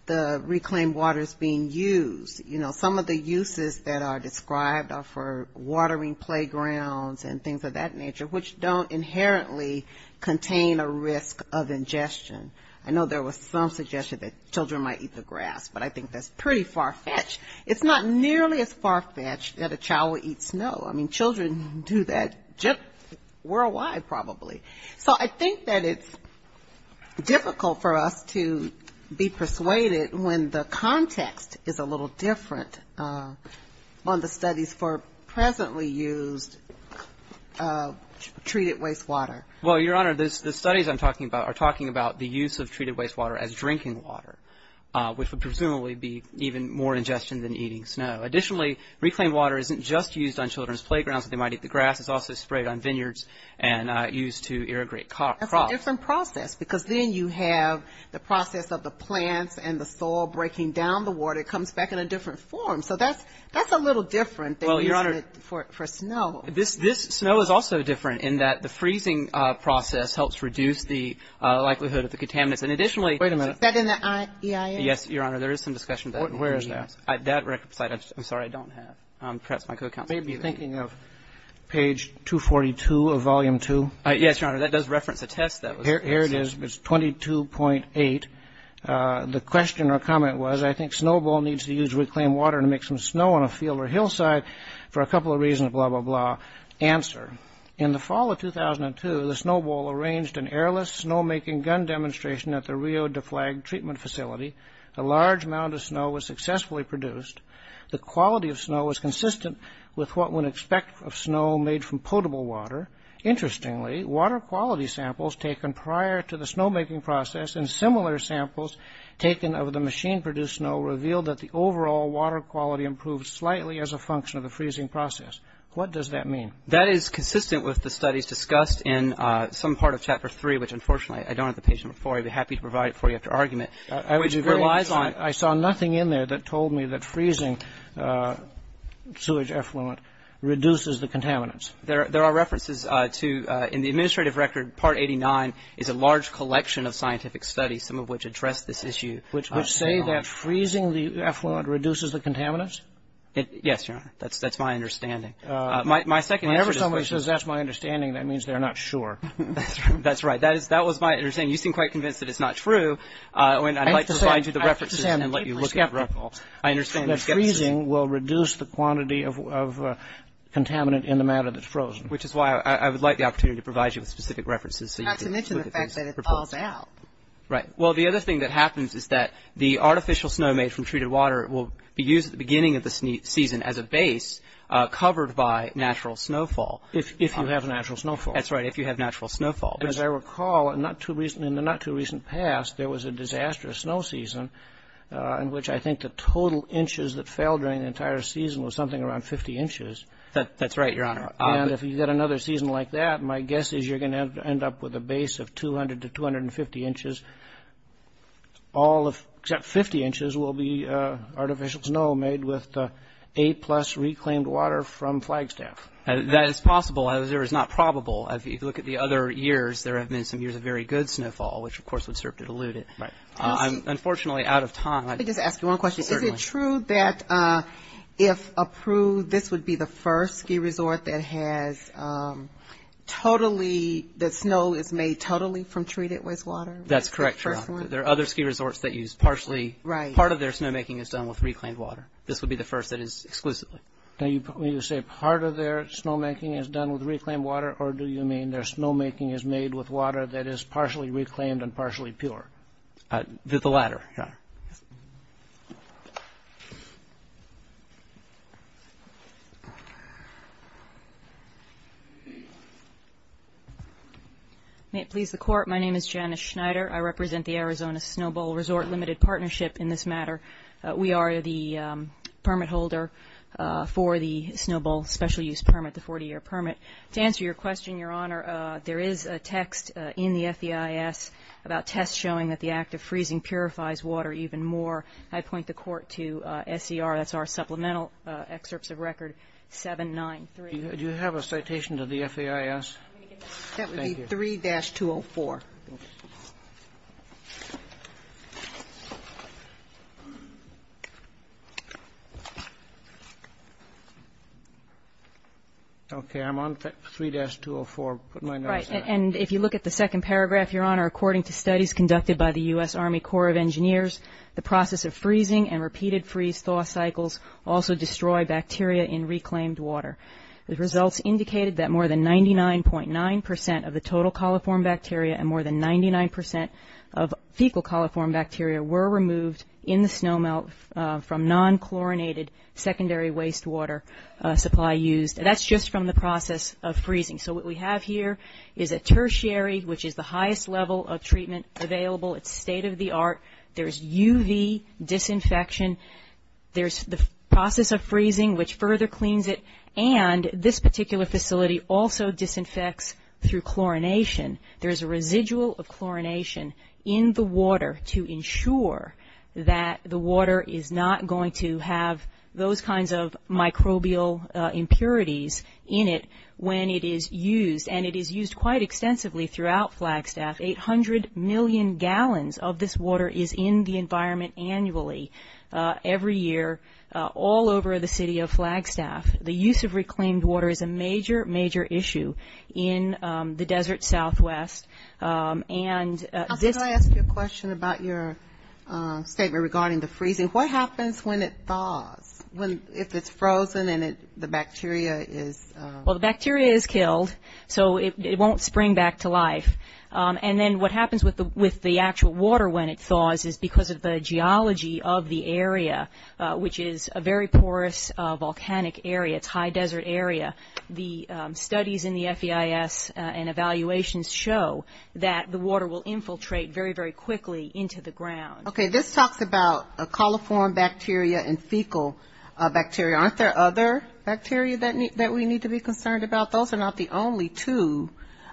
the reclaimed water is being used. You know, some of the uses that are described are for watering playgrounds and things of that nature, which don't inherently contain a risk of ingestion. I know there was some suggestion that children might eat the grass, but I think that's pretty far-fetched. It's not nearly as far-fetched that a child would eat snow. I mean, children do that just worldwide probably. So I think that it's difficult for us to be persuaded when the context is a little different on the studies for presently used treated wastewater. Well, Your Honor, the studies I'm talking about are talking about the use of treated wastewater as drinking water, which would presumably be even more ingestion than eating snow. Additionally, reclaimed water isn't just used on children's playgrounds that they might eat the grass. It's also sprayed on vineyards and used to irrigate crops. That's a different process because then you have the process of the plants and the soil breaking down the water comes back in a different form. So that's a little different than using it for snow. This snow is also different in that the freezing process helps reduce the likelihood of the contaminants. And additionally- Wait a minute. Is that in the EIA? Yes, Your Honor. There is some discussion about that. Where is that? That record site. I'm sorry. I don't have it. Are you thinking of page 242 of Volume 2? Yes, Your Honor. That does reference the test that was- Here it is. It's 22.8. The question or comment was, I think Snowbowl needs to use reclaimed water to make some snow on a field or hillside for a couple of reasons, blah, blah, blah. Answer, in the fall of 2002, the Snowbowl arranged an airless snowmaking gun demonstration at the Rio de Flag treatment facility. A large mound of snow was successfully produced. The quality of snow was consistent with what one would expect of snow made from potable water. Interestingly, water quality samples taken prior to the snowmaking process and similar samples taken of the machine-produced snow revealed that the overall water quality improved slightly as a function of the freezing process. What does that mean? That is consistent with the studies discussed in some part of Chapter 3, which unfortunately I don't have the page number for. I'd be happy to provide it for you after argument. I saw nothing in there that told me that freezing sewage effluent reduces the contaminants. There are references to, in the administrative record, Part 89 is a large collection of scientific studies, some of which address this issue. Which say that freezing the effluent reduces the contaminants? Yes, Your Honor. That's my understanding. Whenever someone says that's my understanding, that means they're not sure. That's right. That was my understanding. You seem quite convinced that it's not true. I'd like to go into the references and let you look at them. I understand that freezing will reduce the quantity of contaminant in the matter that's frozen. Which is why I would like the opportunity to provide you with specific references. Not to mention the fact that it's all about. Right. Well, the other thing that happens is that the artificial snow made from treated water will be used at the beginning of the season as a base covered by natural snowfall. If you have natural snowfall. That's right, if you have natural snowfall. As I recall, in the not-too-recent past, there was a disastrous snow season in which I think the total inches that fell during the entire season was something around 50 inches. That's right, Your Honor. If you get another season like that, my guess is you're going to end up with a base of 200 to 250 inches. All except 50 inches will be artificial snow made with A-plus reclaimed water from Flagstaff. That is possible. However, it's not probable. If you look at the other years, there have been some years of very good snowfall, which of course would serve to dilute it. Right. I'm unfortunately out of time. Let me just ask you one question. Certainly. Is it true that if approved, this would be the first ski resort that snow is made totally from treated wastewater? That's correct, Your Honor. There are other ski resorts that use partially... Right. Part of their snowmaking is done with reclaimed water. This would be the first that is exclusively. You said part of their snowmaking is done with reclaimed water, or do you mean their snowmaking is made with water that is partially reclaimed and partially pure? The latter, Your Honor. May it please the Court, my name is Janice Schneider. I represent the Arizona Snow Bowl Resort Limited Partnership in this matter. We are the permit holder for the Snow Bowl special use permit, the 40-year permit. To answer your question, Your Honor, there is a text in the FEIS about tests showing that the act of freezing purifies water even more. I point the Court to SCRSR supplemental excerpts of record 793. Do you have a citation to the FEIS? That would be 3-204. Okay, I'm on 3-204. If you look at the second paragraph, Your Honor, according to studies conducted by the U.S. Army Corps of Engineers, the process of freezing and repeated freeze-thaw cycles also destroy bacteria in reclaimed water. The results indicated that more than 99.9% of the total coliform bacteria and more than 99% of fecal coliform bacteria were removed in the snow melt from non-chlorinated secondary wastewater supply used. That's just from the process of freezing. So what we have here is a tertiary, which is the highest level of treatment available. It's state-of-the-art. There's UV disinfection. There's the process of freezing, which further cleans it. And this particular facility also disinfects through chlorination. There's a residual of chlorination in the water to ensure that the water is not going to have those kinds of microbial impurities in it when it is used, and it is used quite extensively throughout Flagstaff. Eight hundred million gallons of this water is in the environment annually, every year, all over the city of Flagstaff. The use of reclaimed water is a major, major issue in the desert southwest. Did I ask you a question about your statement regarding the freezing? What happens when it thaws, if it's frozen and the bacteria is killed? Well, the bacteria is killed, so it won't spring back to life. And then what happens with the actual water when it thaws is because of the geology of the area, which is a very porous volcanic area. It's a high desert area. The studies in the FEIS and evaluations show that the water will infiltrate very, very quickly into the ground. Okay, this talks about coliform bacteria and fecal bacteria. Aren't there other bacteria that we need to be concerned about? Those are not the only two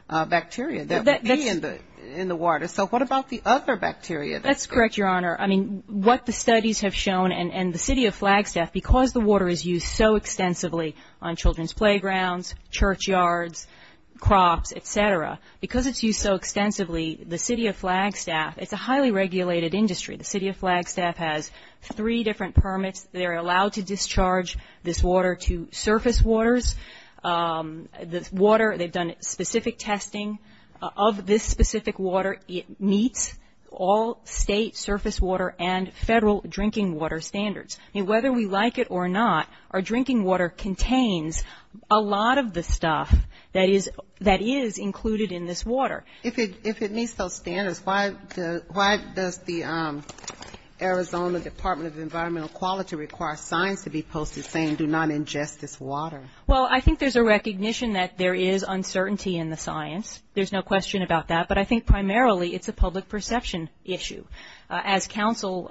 bacteria that would be in the water. So what about the other bacteria? That's correct, Your Honor. I mean, what the studies have shown, and the city of Flagstaff, because the water is used so extensively on children's playgrounds, churchyards, crops, et cetera, because it's used so extensively, the city of Flagstaff, it's a highly regulated industry. The city of Flagstaff has three different permits. They're allowed to discharge this water to surface waters. The water, they've done specific testing. Of this specific water, it meets all state surface water and federal drinking water standards. And whether we like it or not, our drinking water contains a lot of the stuff that is included in this water. If it meets those standards, why does the Arizona Department of Environmental Quality require signs to be posted saying do not ingest this water? Well, I think there's a recognition that there is uncertainty in the science. There's no question about that. But I think primarily it's a public perception issue. As counsel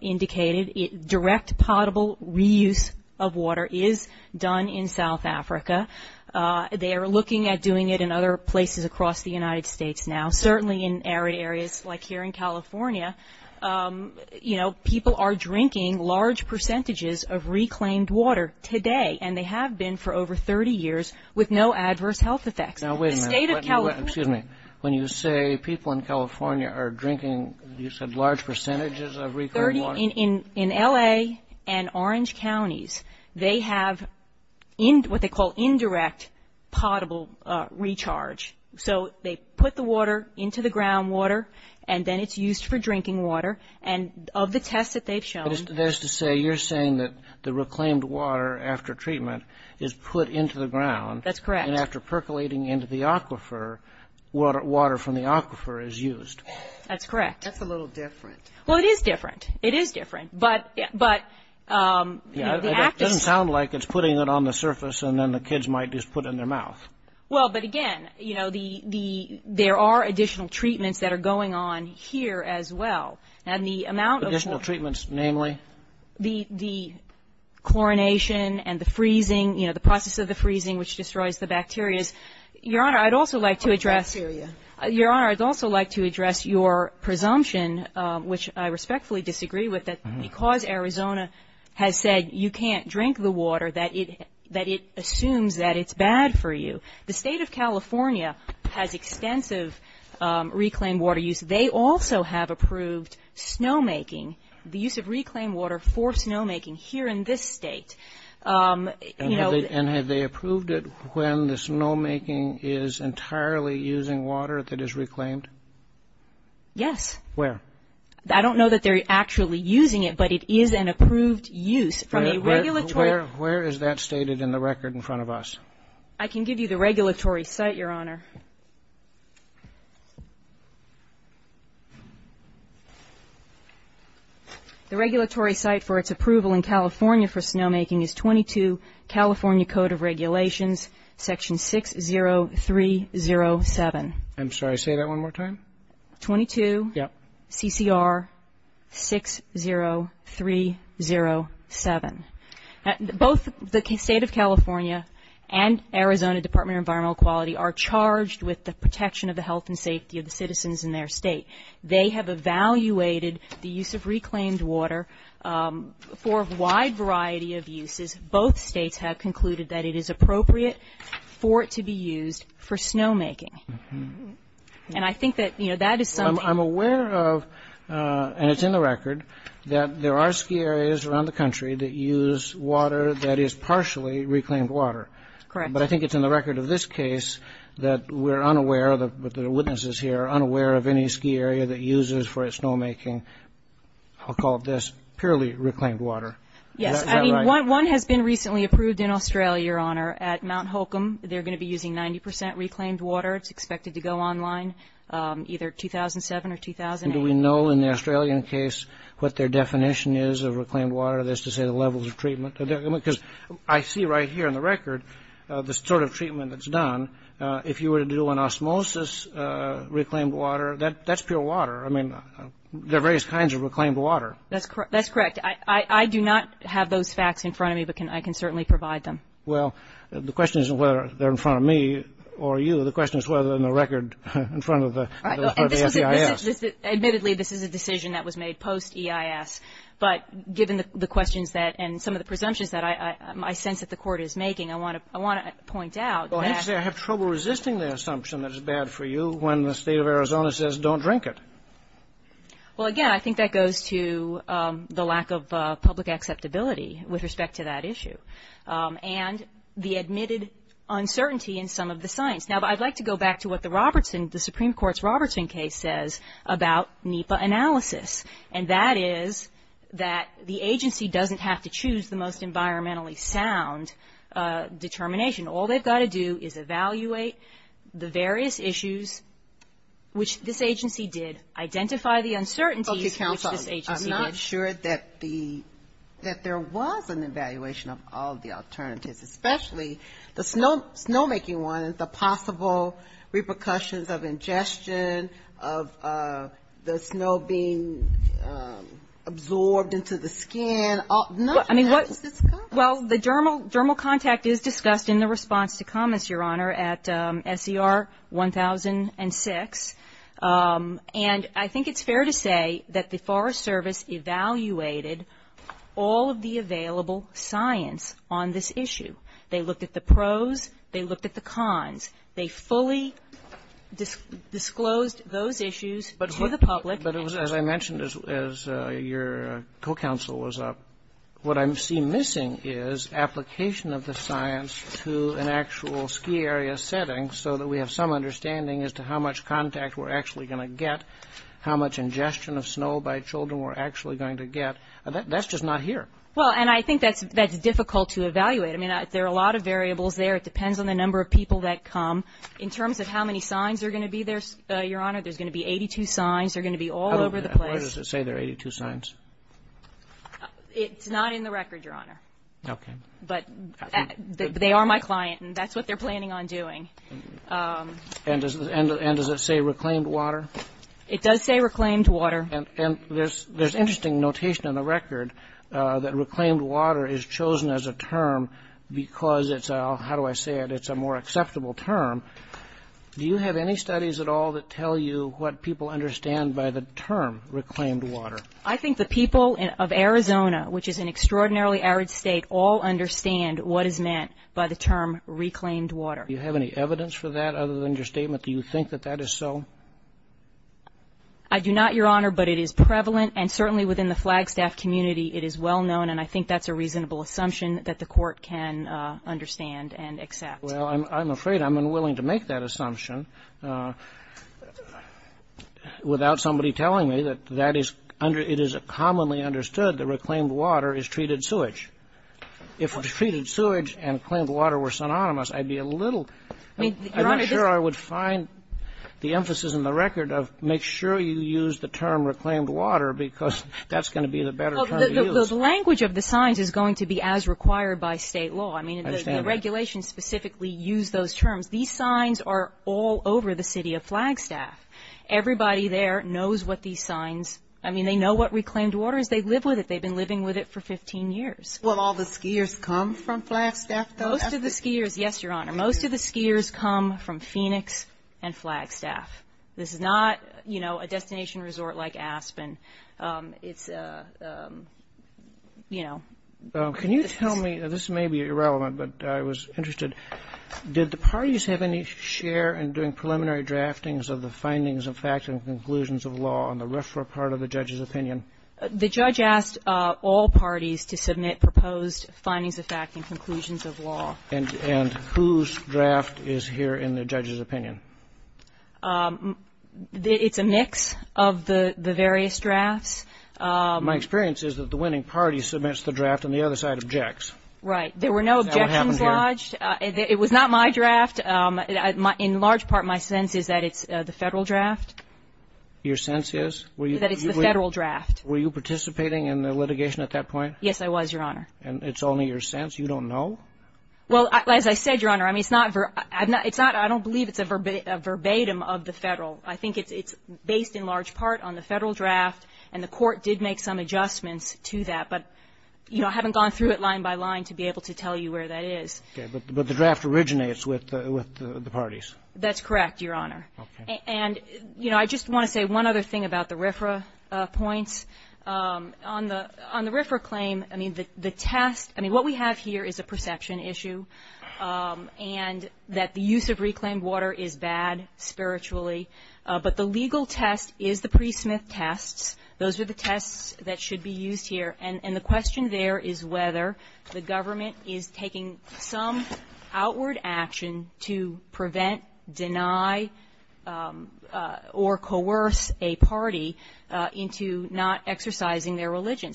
indicated, direct potable reuse of water is done in South Africa. They are looking at doing it in other places across the United States now, certainly in arid areas like here in California. You know, people are drinking large percentages of reclaimed water today, and they have been for over 30 years with no adverse health effects. Now, wait a minute. Excuse me. When you say people in California are drinking, you said large percentages of reclaimed water? In L.A. and Orange Counties, they have what they call indirect potable recharge. So they put the water into the groundwater, and then it's used for drinking water. And of the tests that they've shown- So that is to say you're saying that the reclaimed water after treatment is put into the ground. That's correct. And after percolating into the aquifer, water from the aquifer is used. That's correct. That's a little different. Well, it is different. It is different. But- It doesn't sound like it's putting it on the surface, and then the kids might just put it in their mouth. Well, but again, you know, there are additional treatments that are going on here as well. Additional treatments, namely? The chlorination and the freezing, you know, the process of the freezing, which destroys the bacteria. Your Honor, I'd also like to address your presumption, which I respectfully disagree with, that because Arizona has said you can't drink the water, that it assumes that it's bad for you. The state of California has extensive reclaimed water use. They also have approved snowmaking, the use of reclaimed water for snowmaking here in this state. And have they approved it when the snowmaking is entirely using water that is reclaimed? Yes. Where? I don't know that they're actually using it, but it is an approved use from a regulatory- Where is that stated in the record in front of us? I can give you the regulatory site, Your Honor. The regulatory site for its approval in California for snowmaking is 22 California Code of Regulations, Section 60307. I'm sorry, say that one more time? 22 CCR 60307. Both the state of California and Arizona Department of Environmental Quality are charged with the protection of the health and safety of the citizens in their state. They have evaluated the use of reclaimed water for a wide variety of uses. Both states have concluded that it is appropriate for it to be used for snowmaking. And I think that, you know, that assumption- I'm aware of, and it's in the record, that there are ski areas around the country that use water that is partially reclaimed water. Correct. But I think it's in the record of this case that we're unaware, the witnesses here, unaware of any ski area that uses for its snowmaking, I'll call it this, purely reclaimed water. Yes. I mean, one has been recently approved in Australia, Your Honor, at Mount Holcomb. They're going to be using 90% reclaimed water. It's expected to go online either 2007 or 2008. Do we know in the Australian case what their definition is of reclaimed water, that's to say the levels of treatment? Because I see right here in the record the sort of treatment that's done. If you were to do an osmosis reclaimed water, that's pure water. I mean, there are various kinds of reclaimed water. That's correct. I do not have those facts in front of me, but I can certainly provide them. Well, the question isn't whether they're in front of me or you. The question is whether they're in the record in front of the FBI. Admittedly, this is a decision that was made post EIS, but given the questions that and some of the presumptions that I sense that the court is making, I want to point out that. I have trouble resisting the assumption that it's bad for you when the state of Arizona says don't drink it. Well, again, I think that goes to the lack of public acceptability with respect to that issue. And the admitted uncertainty in some of the signs. Now, I'd like to go back to what the Robertson, the Supreme Court's Robertson case says about NEPA analysis. And that is that the agency doesn't have to choose the most environmentally sound determination. All they've got to do is evaluate the various issues, which this agency did, identify the uncertainties. Okay, counsel. I'm not sure that there was an evaluation of all the alternatives, especially the snowmaking ones, the possible repercussions of ingestion, of the snow being absorbed into the skin. I mean, what's discussed? Well, the dermal contact is discussed in the response to comments, Your Honor, at SCR 1006. And I think it's fair to say that the Forest Service evaluated all of the available science on this issue. They looked at the pros. They looked at the cons. They fully disclosed those issues to the public. But it was, as I mentioned, as your co-counsel was up, what I see missing is application of the science to an actual ski area setting so that we have some understanding as to how much contact we're actually going to get, how much ingestion of snow by children we're actually going to get. That's just not here. Well, and I think that's difficult to evaluate. I mean, there are a lot of variables there. It depends on the number of people that come. In terms of how many signs are going to be there, Your Honor, there's going to be 82 signs. They're going to be all over the place. How does it say there are 82 signs? It's not in the record, Your Honor. Okay. But they are my client, and that's what they're planning on doing. And does it say reclaimed water? It does say reclaimed water. And there's interesting notation in the record that reclaimed water is chosen as a term because it's a, how do I say it, it's a more acceptable term. Do you have any studies at all that tell you what people understand by the term reclaimed water? I think the people of Arizona, which is an extraordinarily arid state, all understand what is meant by the term reclaimed water. Do you have any evidence for that other than your statement? Do you think that that is so? I do not, Your Honor, but it is prevalent, and certainly within the Flagstaff community it is well known, and I think that's a reasonable assumption that the court can understand and accept. Well, I'm afraid I'm unwilling to make that assumption without somebody telling me that it is commonly understood that reclaimed water is treated sewage. If treated sewage and claimed water were synonymous, I'd be a little, I'm not sure I would find the emphasis in the record of make sure you use the term reclaimed water because that's going to be the better term to use. The language of the signs is going to be as required by state law. I mean, the regulations specifically use those terms. These signs are all over the city of Flagstaff. Everybody there knows what these signs, I mean, they know what reclaimed water is. They live with it. They've been living with it for 15 years. Will all the skiers come from Flagstaff? Most of the skiers, yes, Your Honor, most of the skiers come from Phoenix and Flagstaff. This is not, you know, a destination resort like Aspen. It's, you know. Can you tell me, and this may be irrelevant, but I was interested, did the parties have any share in doing preliminary draftings of the findings of facts and conclusions of law on the referral part of the judge's opinion? The judge asked all parties to submit proposed findings of facts and conclusions of law. And whose draft is here in the judge's opinion? It's a mix of the various drafts. My experience is that the winning party submits the draft and the other side objects. Right. There were no objections dodged. It was not my draft. In large part, my sense is that it's the federal draft. Your sense is? That it's the federal draft. Were you participating in the litigation at that point? Yes, I was, Your Honor. And it's only your sense? You don't know? Well, as I said, Your Honor, I mean, it's not, I don't believe it's a verbatim of the federal. I think it's based in large part on the federal draft, and the court did make some adjustments to that. But, you know, I haven't gone through it line by line to be able to tell you where that is. Okay. But the draft originates with the parties. That's correct, Your Honor. Okay. And, you know, I just want to say one other thing about the RFRA point. On the RFRA claim, I mean, the test, I mean, what we have here is a perception issue, and that the use of reclaimed water is bad spiritually. But the legal test is the pre-Smith test. Those are the tests that should be used here. And the question there is whether the government is taking some outward action to prevent, deny, or coerce a party into not exercising their religion.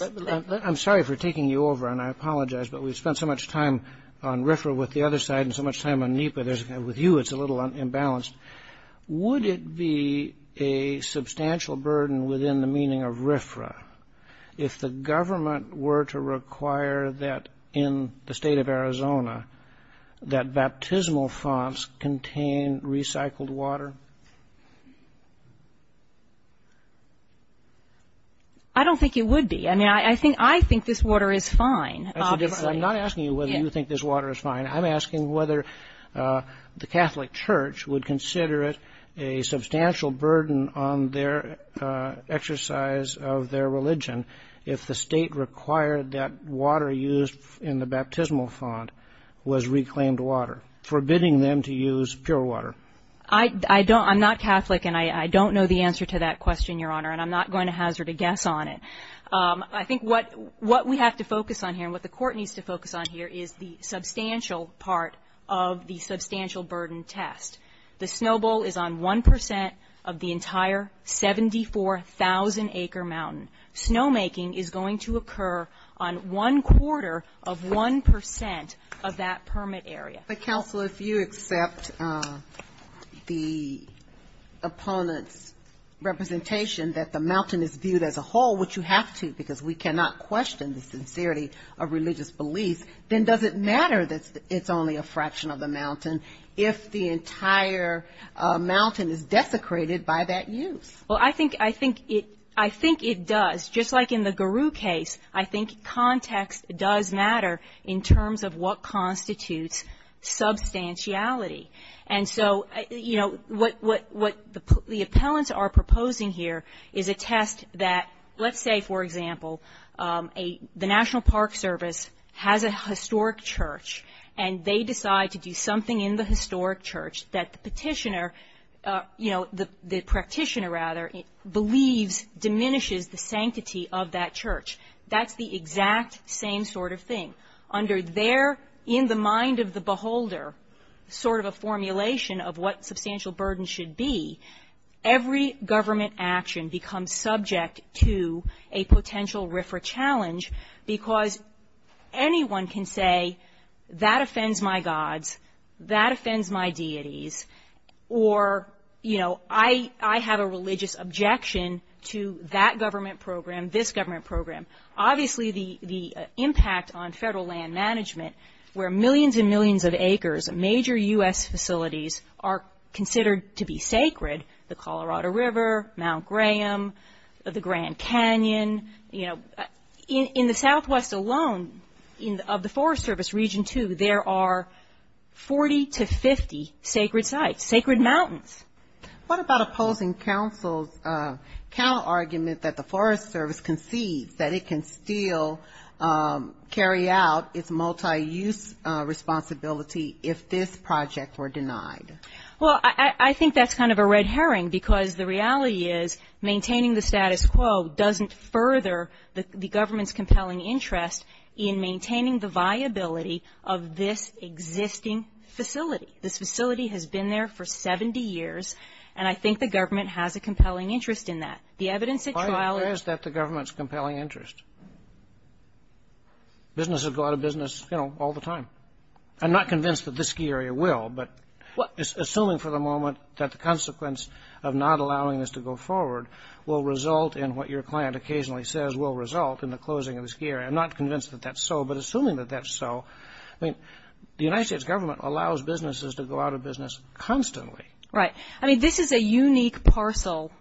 I'm sorry for taking you over, and I apologize, but we've spent so much time on RFRA with the other side and so much time on NEPA with you, it's a little unbalanced. Would it be a substantial burden within the meaning of RFRA if the government were to require that, in the state of Arizona, that baptismal fonts contain recycled water? I don't think it would be. I mean, I think this water is fine. I'm not asking you whether you think this water is fine. I'm asking whether the Catholic Church would consider it a substantial burden on their exercise of their religion if the state required that water used in the baptismal font was reclaimed water, forbidding them to use pure water. I'm not Catholic, and I don't know the answer to that question, Your Honor, and I'm not going to hazard a guess on it. I think what we have to focus on here and what the court needs to focus on here is the substantial part of the substantial burden test. The snowball is on 1% of the entire 74,000-acre mountain. Snowmaking is going to occur on one quarter of 1% of that permit area. But, Counselor, if you accept the opponent's representation that the mountain is viewed as a whole, which you have to because we cannot question the sincerity of religious belief, then does it matter that it's only a fraction of the mountain if the entire mountain is desecrated by that use? Well, I think it does. Just like in the Garou case, I think context does matter in terms of what constitutes substantiality. And so, you know, what the appellants are proposing here is a test that, let's say, for example, the National Park Service has a historic church, and they decide to do something in the historic church that the petitioner, you know, the practitioner, rather, believes diminishes the sanctity of that church. That's the exact same sort of thing. Under their, in the mind of the beholder, sort of a formulation of what substantial burden should be, every government action becomes subject to a potential RIFRA challenge because anyone can say, that offends my gods, that offends my deities, or, you know, I have a religious objection to that government program, this government program. Obviously, the impact on federal land management where millions and millions of acres, major U.S. facilities are considered to be sacred, the Colorado River, Mount Graham, the Grand Canyon, you know, in the southwest alone of the Forest Service Region 2, there are 40 to 50 sacred sites, sacred mountains. What about opposing counsel's count argument that the Forest Service concedes that it can still carry out its multi-use responsibility if this project were denied? Well, I think that's kind of a red herring because the reality is maintaining the status quo doesn't further the government's compelling interest in maintaining the viability of this existing facility. This facility has been there for 70 years, and I think the government has a compelling interest in that. The evidence that qualifies... Why is that the government's compelling interest? Businesses go out of business, you know, all the time. I'm not convinced that this ski area will, but assuming for the moment that the consequence of not allowing this to go forward will result in what your client occasionally says will result in the closing of the ski area. I'm not convinced that that's so, but assuming that that's so, I mean, the United States government allows businesses to go out of business constantly. Right. I mean, this is a unique parcel,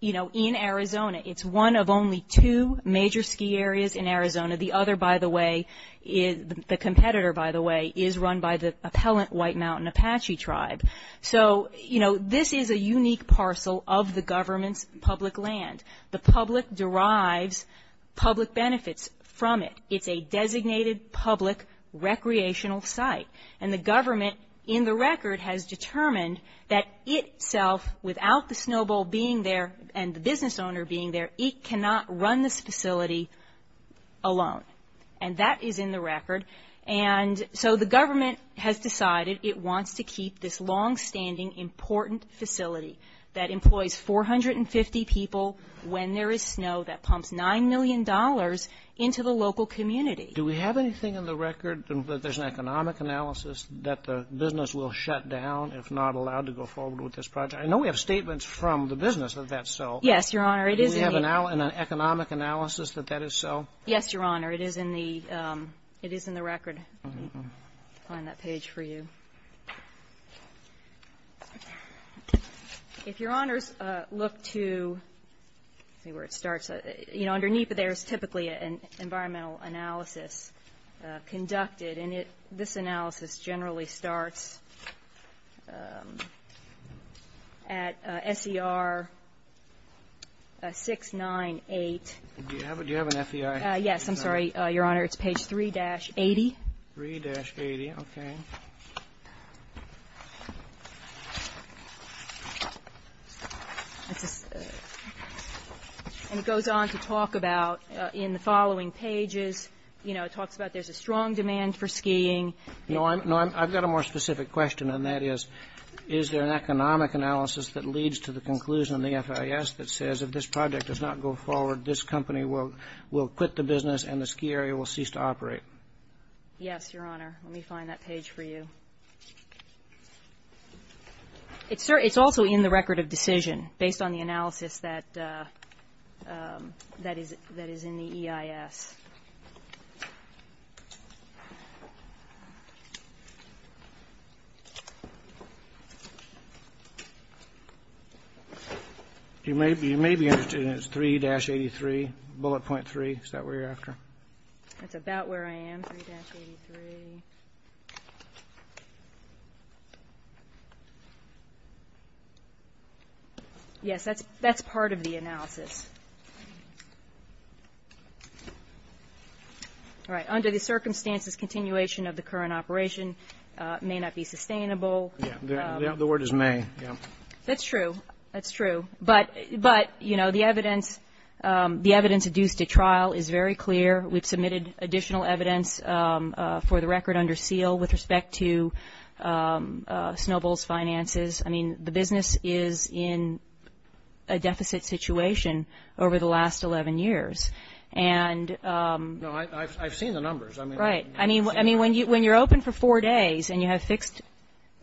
you know, in Arizona. It's one of only two major ski areas in Arizona. The other, by the way, the competitor, by the way, is run by the appellant White Mountain Apache tribe. So, you know, this is a unique parcel of the government's public land. The public derives public benefits from it. It's a designated public recreational site. And the government, in the record, has determined that itself, without the Snow Bowl being there and the business owner being there, it cannot run this facility alone. And that is in the record. And so the government has decided it wants to keep this longstanding important facility that employs 450 people when there is snow that pumps $9 million into the local community. Do we have anything in the record that there's an economic analysis that the business will shut down if not allowed to go forward with this project? I know we have statements from the business that that's so. Yes, Your Honor. Do we have an economic analysis that that is so? Yes, Your Honor. It is in the record on that page for you. If Your Honors look to see where it starts, you know, underneath there's typically an environmental analysis conducted. And this analysis generally starts at SER 698. Do you have an SER? Yes, I'm sorry, Your Honor. It's page 3-80. 3-80, okay. And it goes on to talk about in the following pages, you know, it talks about there's a strong demand for skiing. No, I've got a more specific question, and that is, is there an economic analysis that leads to the conclusion in the FIS that says if this project does not go forward, this company will quit the business and the ski area will cease to operate? Yes, Your Honor. Let me find that page for you. It's also in the record of decision based on the analysis that is in the EIS. You may be interested in 3-83, bullet point 3. Is that where you're after? That's about where I am, 3-83. 3-83. Yes, that's part of the analysis. All right, under the circumstances, continuation of the current operation may not be sustainable. Yeah, the word is may, yeah. That's true. That's true. But, you know, the evidence, the evidence due to trial is very clear. We've submitted additional evidence for the record under seal with respect to Snowbull's finances. I mean, the business is in a deficit situation over the last 11 years. No, I've seen the numbers. Right. I mean, when you're open for four days and you have fixed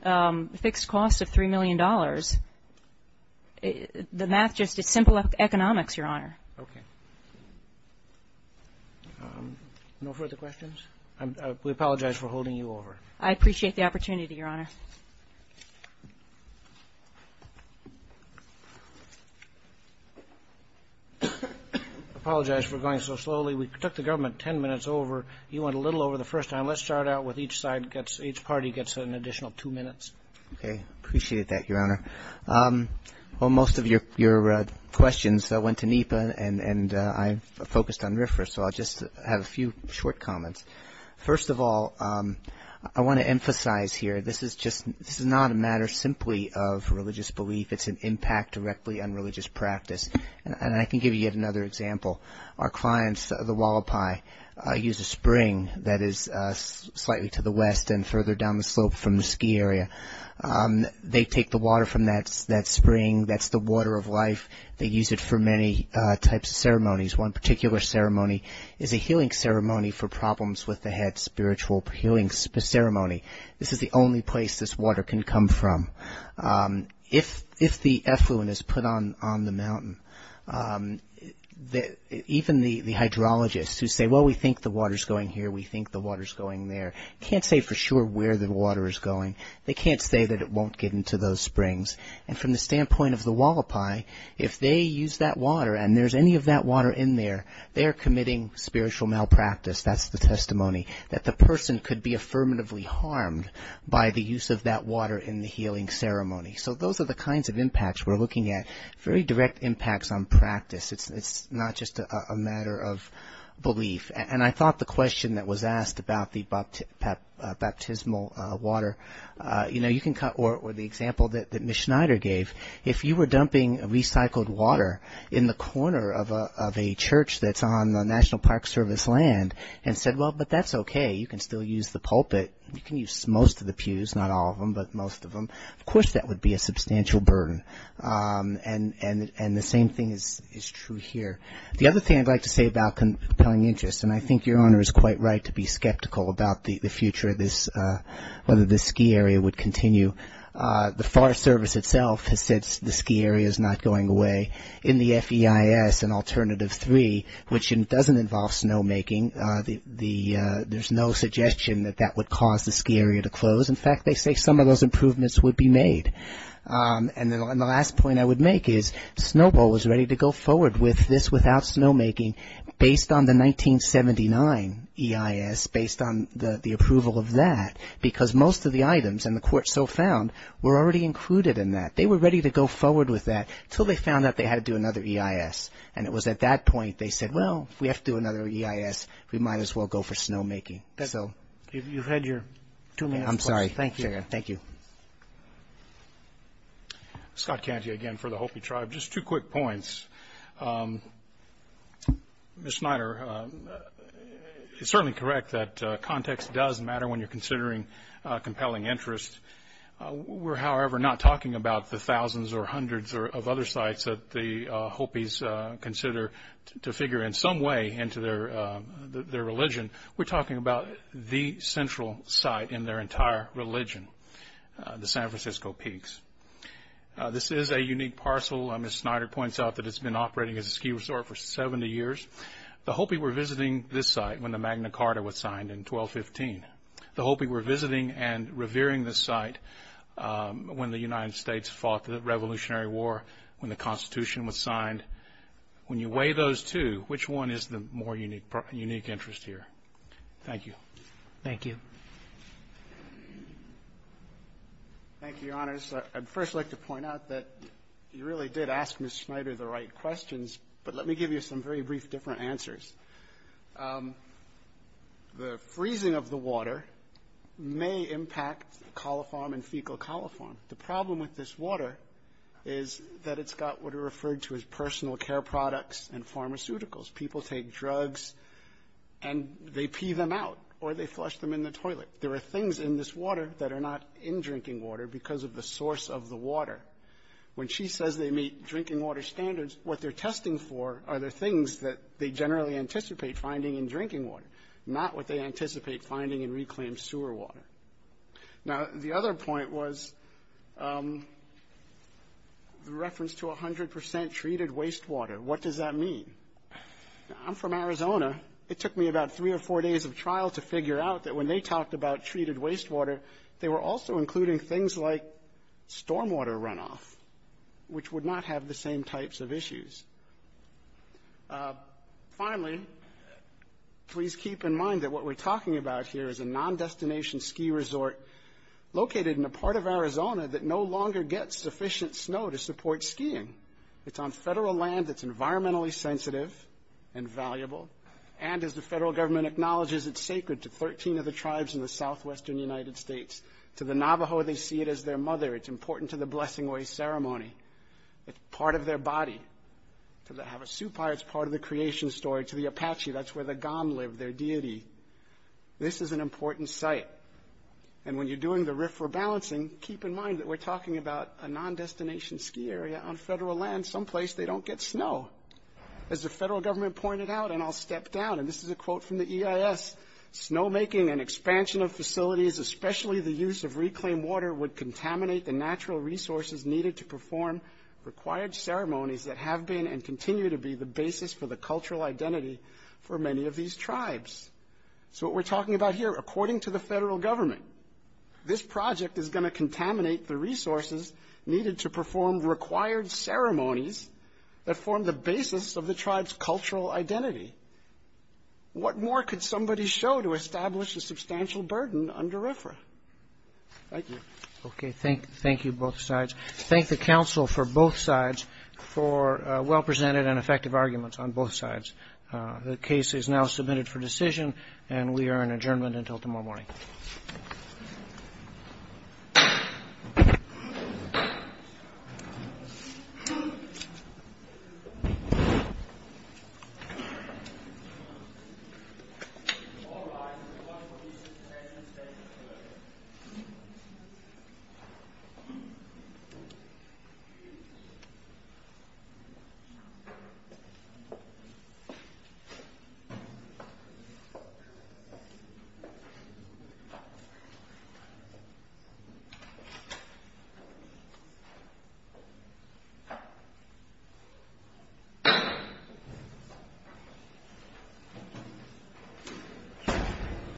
costs of $3 million, then that's just simple economics, Your Honor. Okay. No further questions? We apologize for holding you over. I appreciate the opportunity, Your Honor. I apologize for going so slowly. We took the government 10 minutes over. You went a little over the first time. Let's start out with each side, each party gets an additional two minutes. Okay, appreciate that, Your Honor. Well, most of your questions went to NEPA, and I'm focused on RFRA, so I'll just have a few short comments. First of all, I want to emphasize here, this is just not a matter simply of religious belief. It's an impact directly on religious practice. And I can give you yet another example. Our clients, the Wallapai, use a spring that is slightly to the west and further down the slope from the ski area. They take the water from that spring. That's the water of life. They use it for many types of ceremonies. One particular ceremony is a healing ceremony for problems with the head, spiritual healing ceremony. This is the only place this water can come from. If the effluent is put on the mountain, even the hydrologists who say, well, we think the water is going here, we think the water is going there, can't say for sure where the water is going. They can't say that it won't get into those springs. And from the standpoint of the Wallapai, if they use that water and there's any of that water in there, they're committing spiritual malpractice. That's the testimony, that the person could be affirmatively harmed by the use of that water in the healing ceremony. So those are the kinds of impacts we're looking at, very direct impacts on practice. It's not just a matter of belief. And I thought the question that was asked about the baptismal water, or the example that Ms. Schneider gave, if you were dumping recycled water in the corner of a church that's on the National Park Service land, and said, well, but that's okay, you can still use the pulpit, you can use most of the pews, not all of them, but most of them, of course that would be a substantial burden. And the same thing is true here. The other thing I'd like to say about compelling interest, and I think your Honor is quite right to be skeptical about the future of this, whether this ski area would continue. The Forest Service itself has said the ski area is not going away. In the FEIS, an alternative three, which doesn't involve snowmaking, there's no suggestion that that would cause the ski area to close. In fact, they say some of those improvements would be made. And the last point I would make is, Snowbowl was ready to go forward with this without snowmaking, based on the 1979 EIS, based on the approval of that, because most of the items, and the court so found, were already included in that. They were ready to go forward with that until they found out they had to do another EIS. And it was at that point they said, well, if we have to do another EIS, we might as well go for snowmaking. I'm sorry. Thank you. Thank you. Scott Kennedy again for the Hopi tribe. Just two quick points. Ms. Schneider, it's certainly correct that context does matter when you're considering compelling interest. We're, however, not talking about the thousands or hundreds of other sites that the Hopis consider to figure in some way into their religion. We're talking about the central site in their entire religion, the San Francisco Peaks. This is a unique parcel. Ms. Schneider points out that it's been operating as a ski resort for 70 years. The Hopi were visiting this site when the Magna Carta was signed in 1215. The Hopi were visiting and revering this site when the United States fought the Revolutionary War, when the Constitution was signed. When you weigh those two, which one is the more unique interest here? Thank you. Thank you. Thank you, Your Honors. I'd first like to point out that you really did ask Ms. Schneider the right questions, but let me give you some very brief different answers. The freezing of the water may impact coliform and fecal coliform. The problem with this water is that it's got what are referred to as personal care products and pharmaceuticals. People take drugs and they pee them out or they flush them in the toilet. There are things in this water that are not in drinking water because of the source of the water. When she says they meet drinking water standards, what they're testing for are the things that they generally anticipate finding in drinking water, not what they anticipate finding in reclaimed sewer water. Now, the other point was the reference to 100% treated wastewater. What does that mean? I'm from Arizona. It took me about three or four days of trial to figure out that when they talked about treated wastewater, they were also including things like stormwater runoff, which would not have the same types of issues. Finally, please keep in mind that what we're talking about here is a non-destination ski resort located in a part of Arizona that no longer gets sufficient snow to support skiing. It's on federal land that's environmentally sensitive and valuable, and as the federal government acknowledges, it's sacred to 13 of the tribes in the southwestern United States. To the Navajo, they see it as their mother. It's important to the Blessing Way ceremony. It's part of their body. To the Havasupai, it's part of the creation story. To the Apache, that's where the Gaam live, their deity. This is an important site, and when you're doing the RIF rebalancing, keep in mind that we're talking about a non-destination ski area on federal land. Someplace they don't get snow. As the federal government pointed out, and I'll step down, and this is a quote from the EIS, snowmaking and expansion of facilities, especially the use of reclaimed water, would contaminate the natural resources needed to perform required ceremonies that have been and continue to be the basis for the cultural identity for many of these tribes. So what we're talking about here, according to the federal government, this project is going to contaminate the resources needed to perform required ceremonies that form the basis of the tribe's cultural identity. What more could somebody show to establish a substantial burden under RFRA? Thank you. Okay, thank you, both sides. Thank the council for both sides for well-presented and effective arguments on both sides. The case is now submitted for decision, and we are in adjournment until tomorrow morning. Thank you.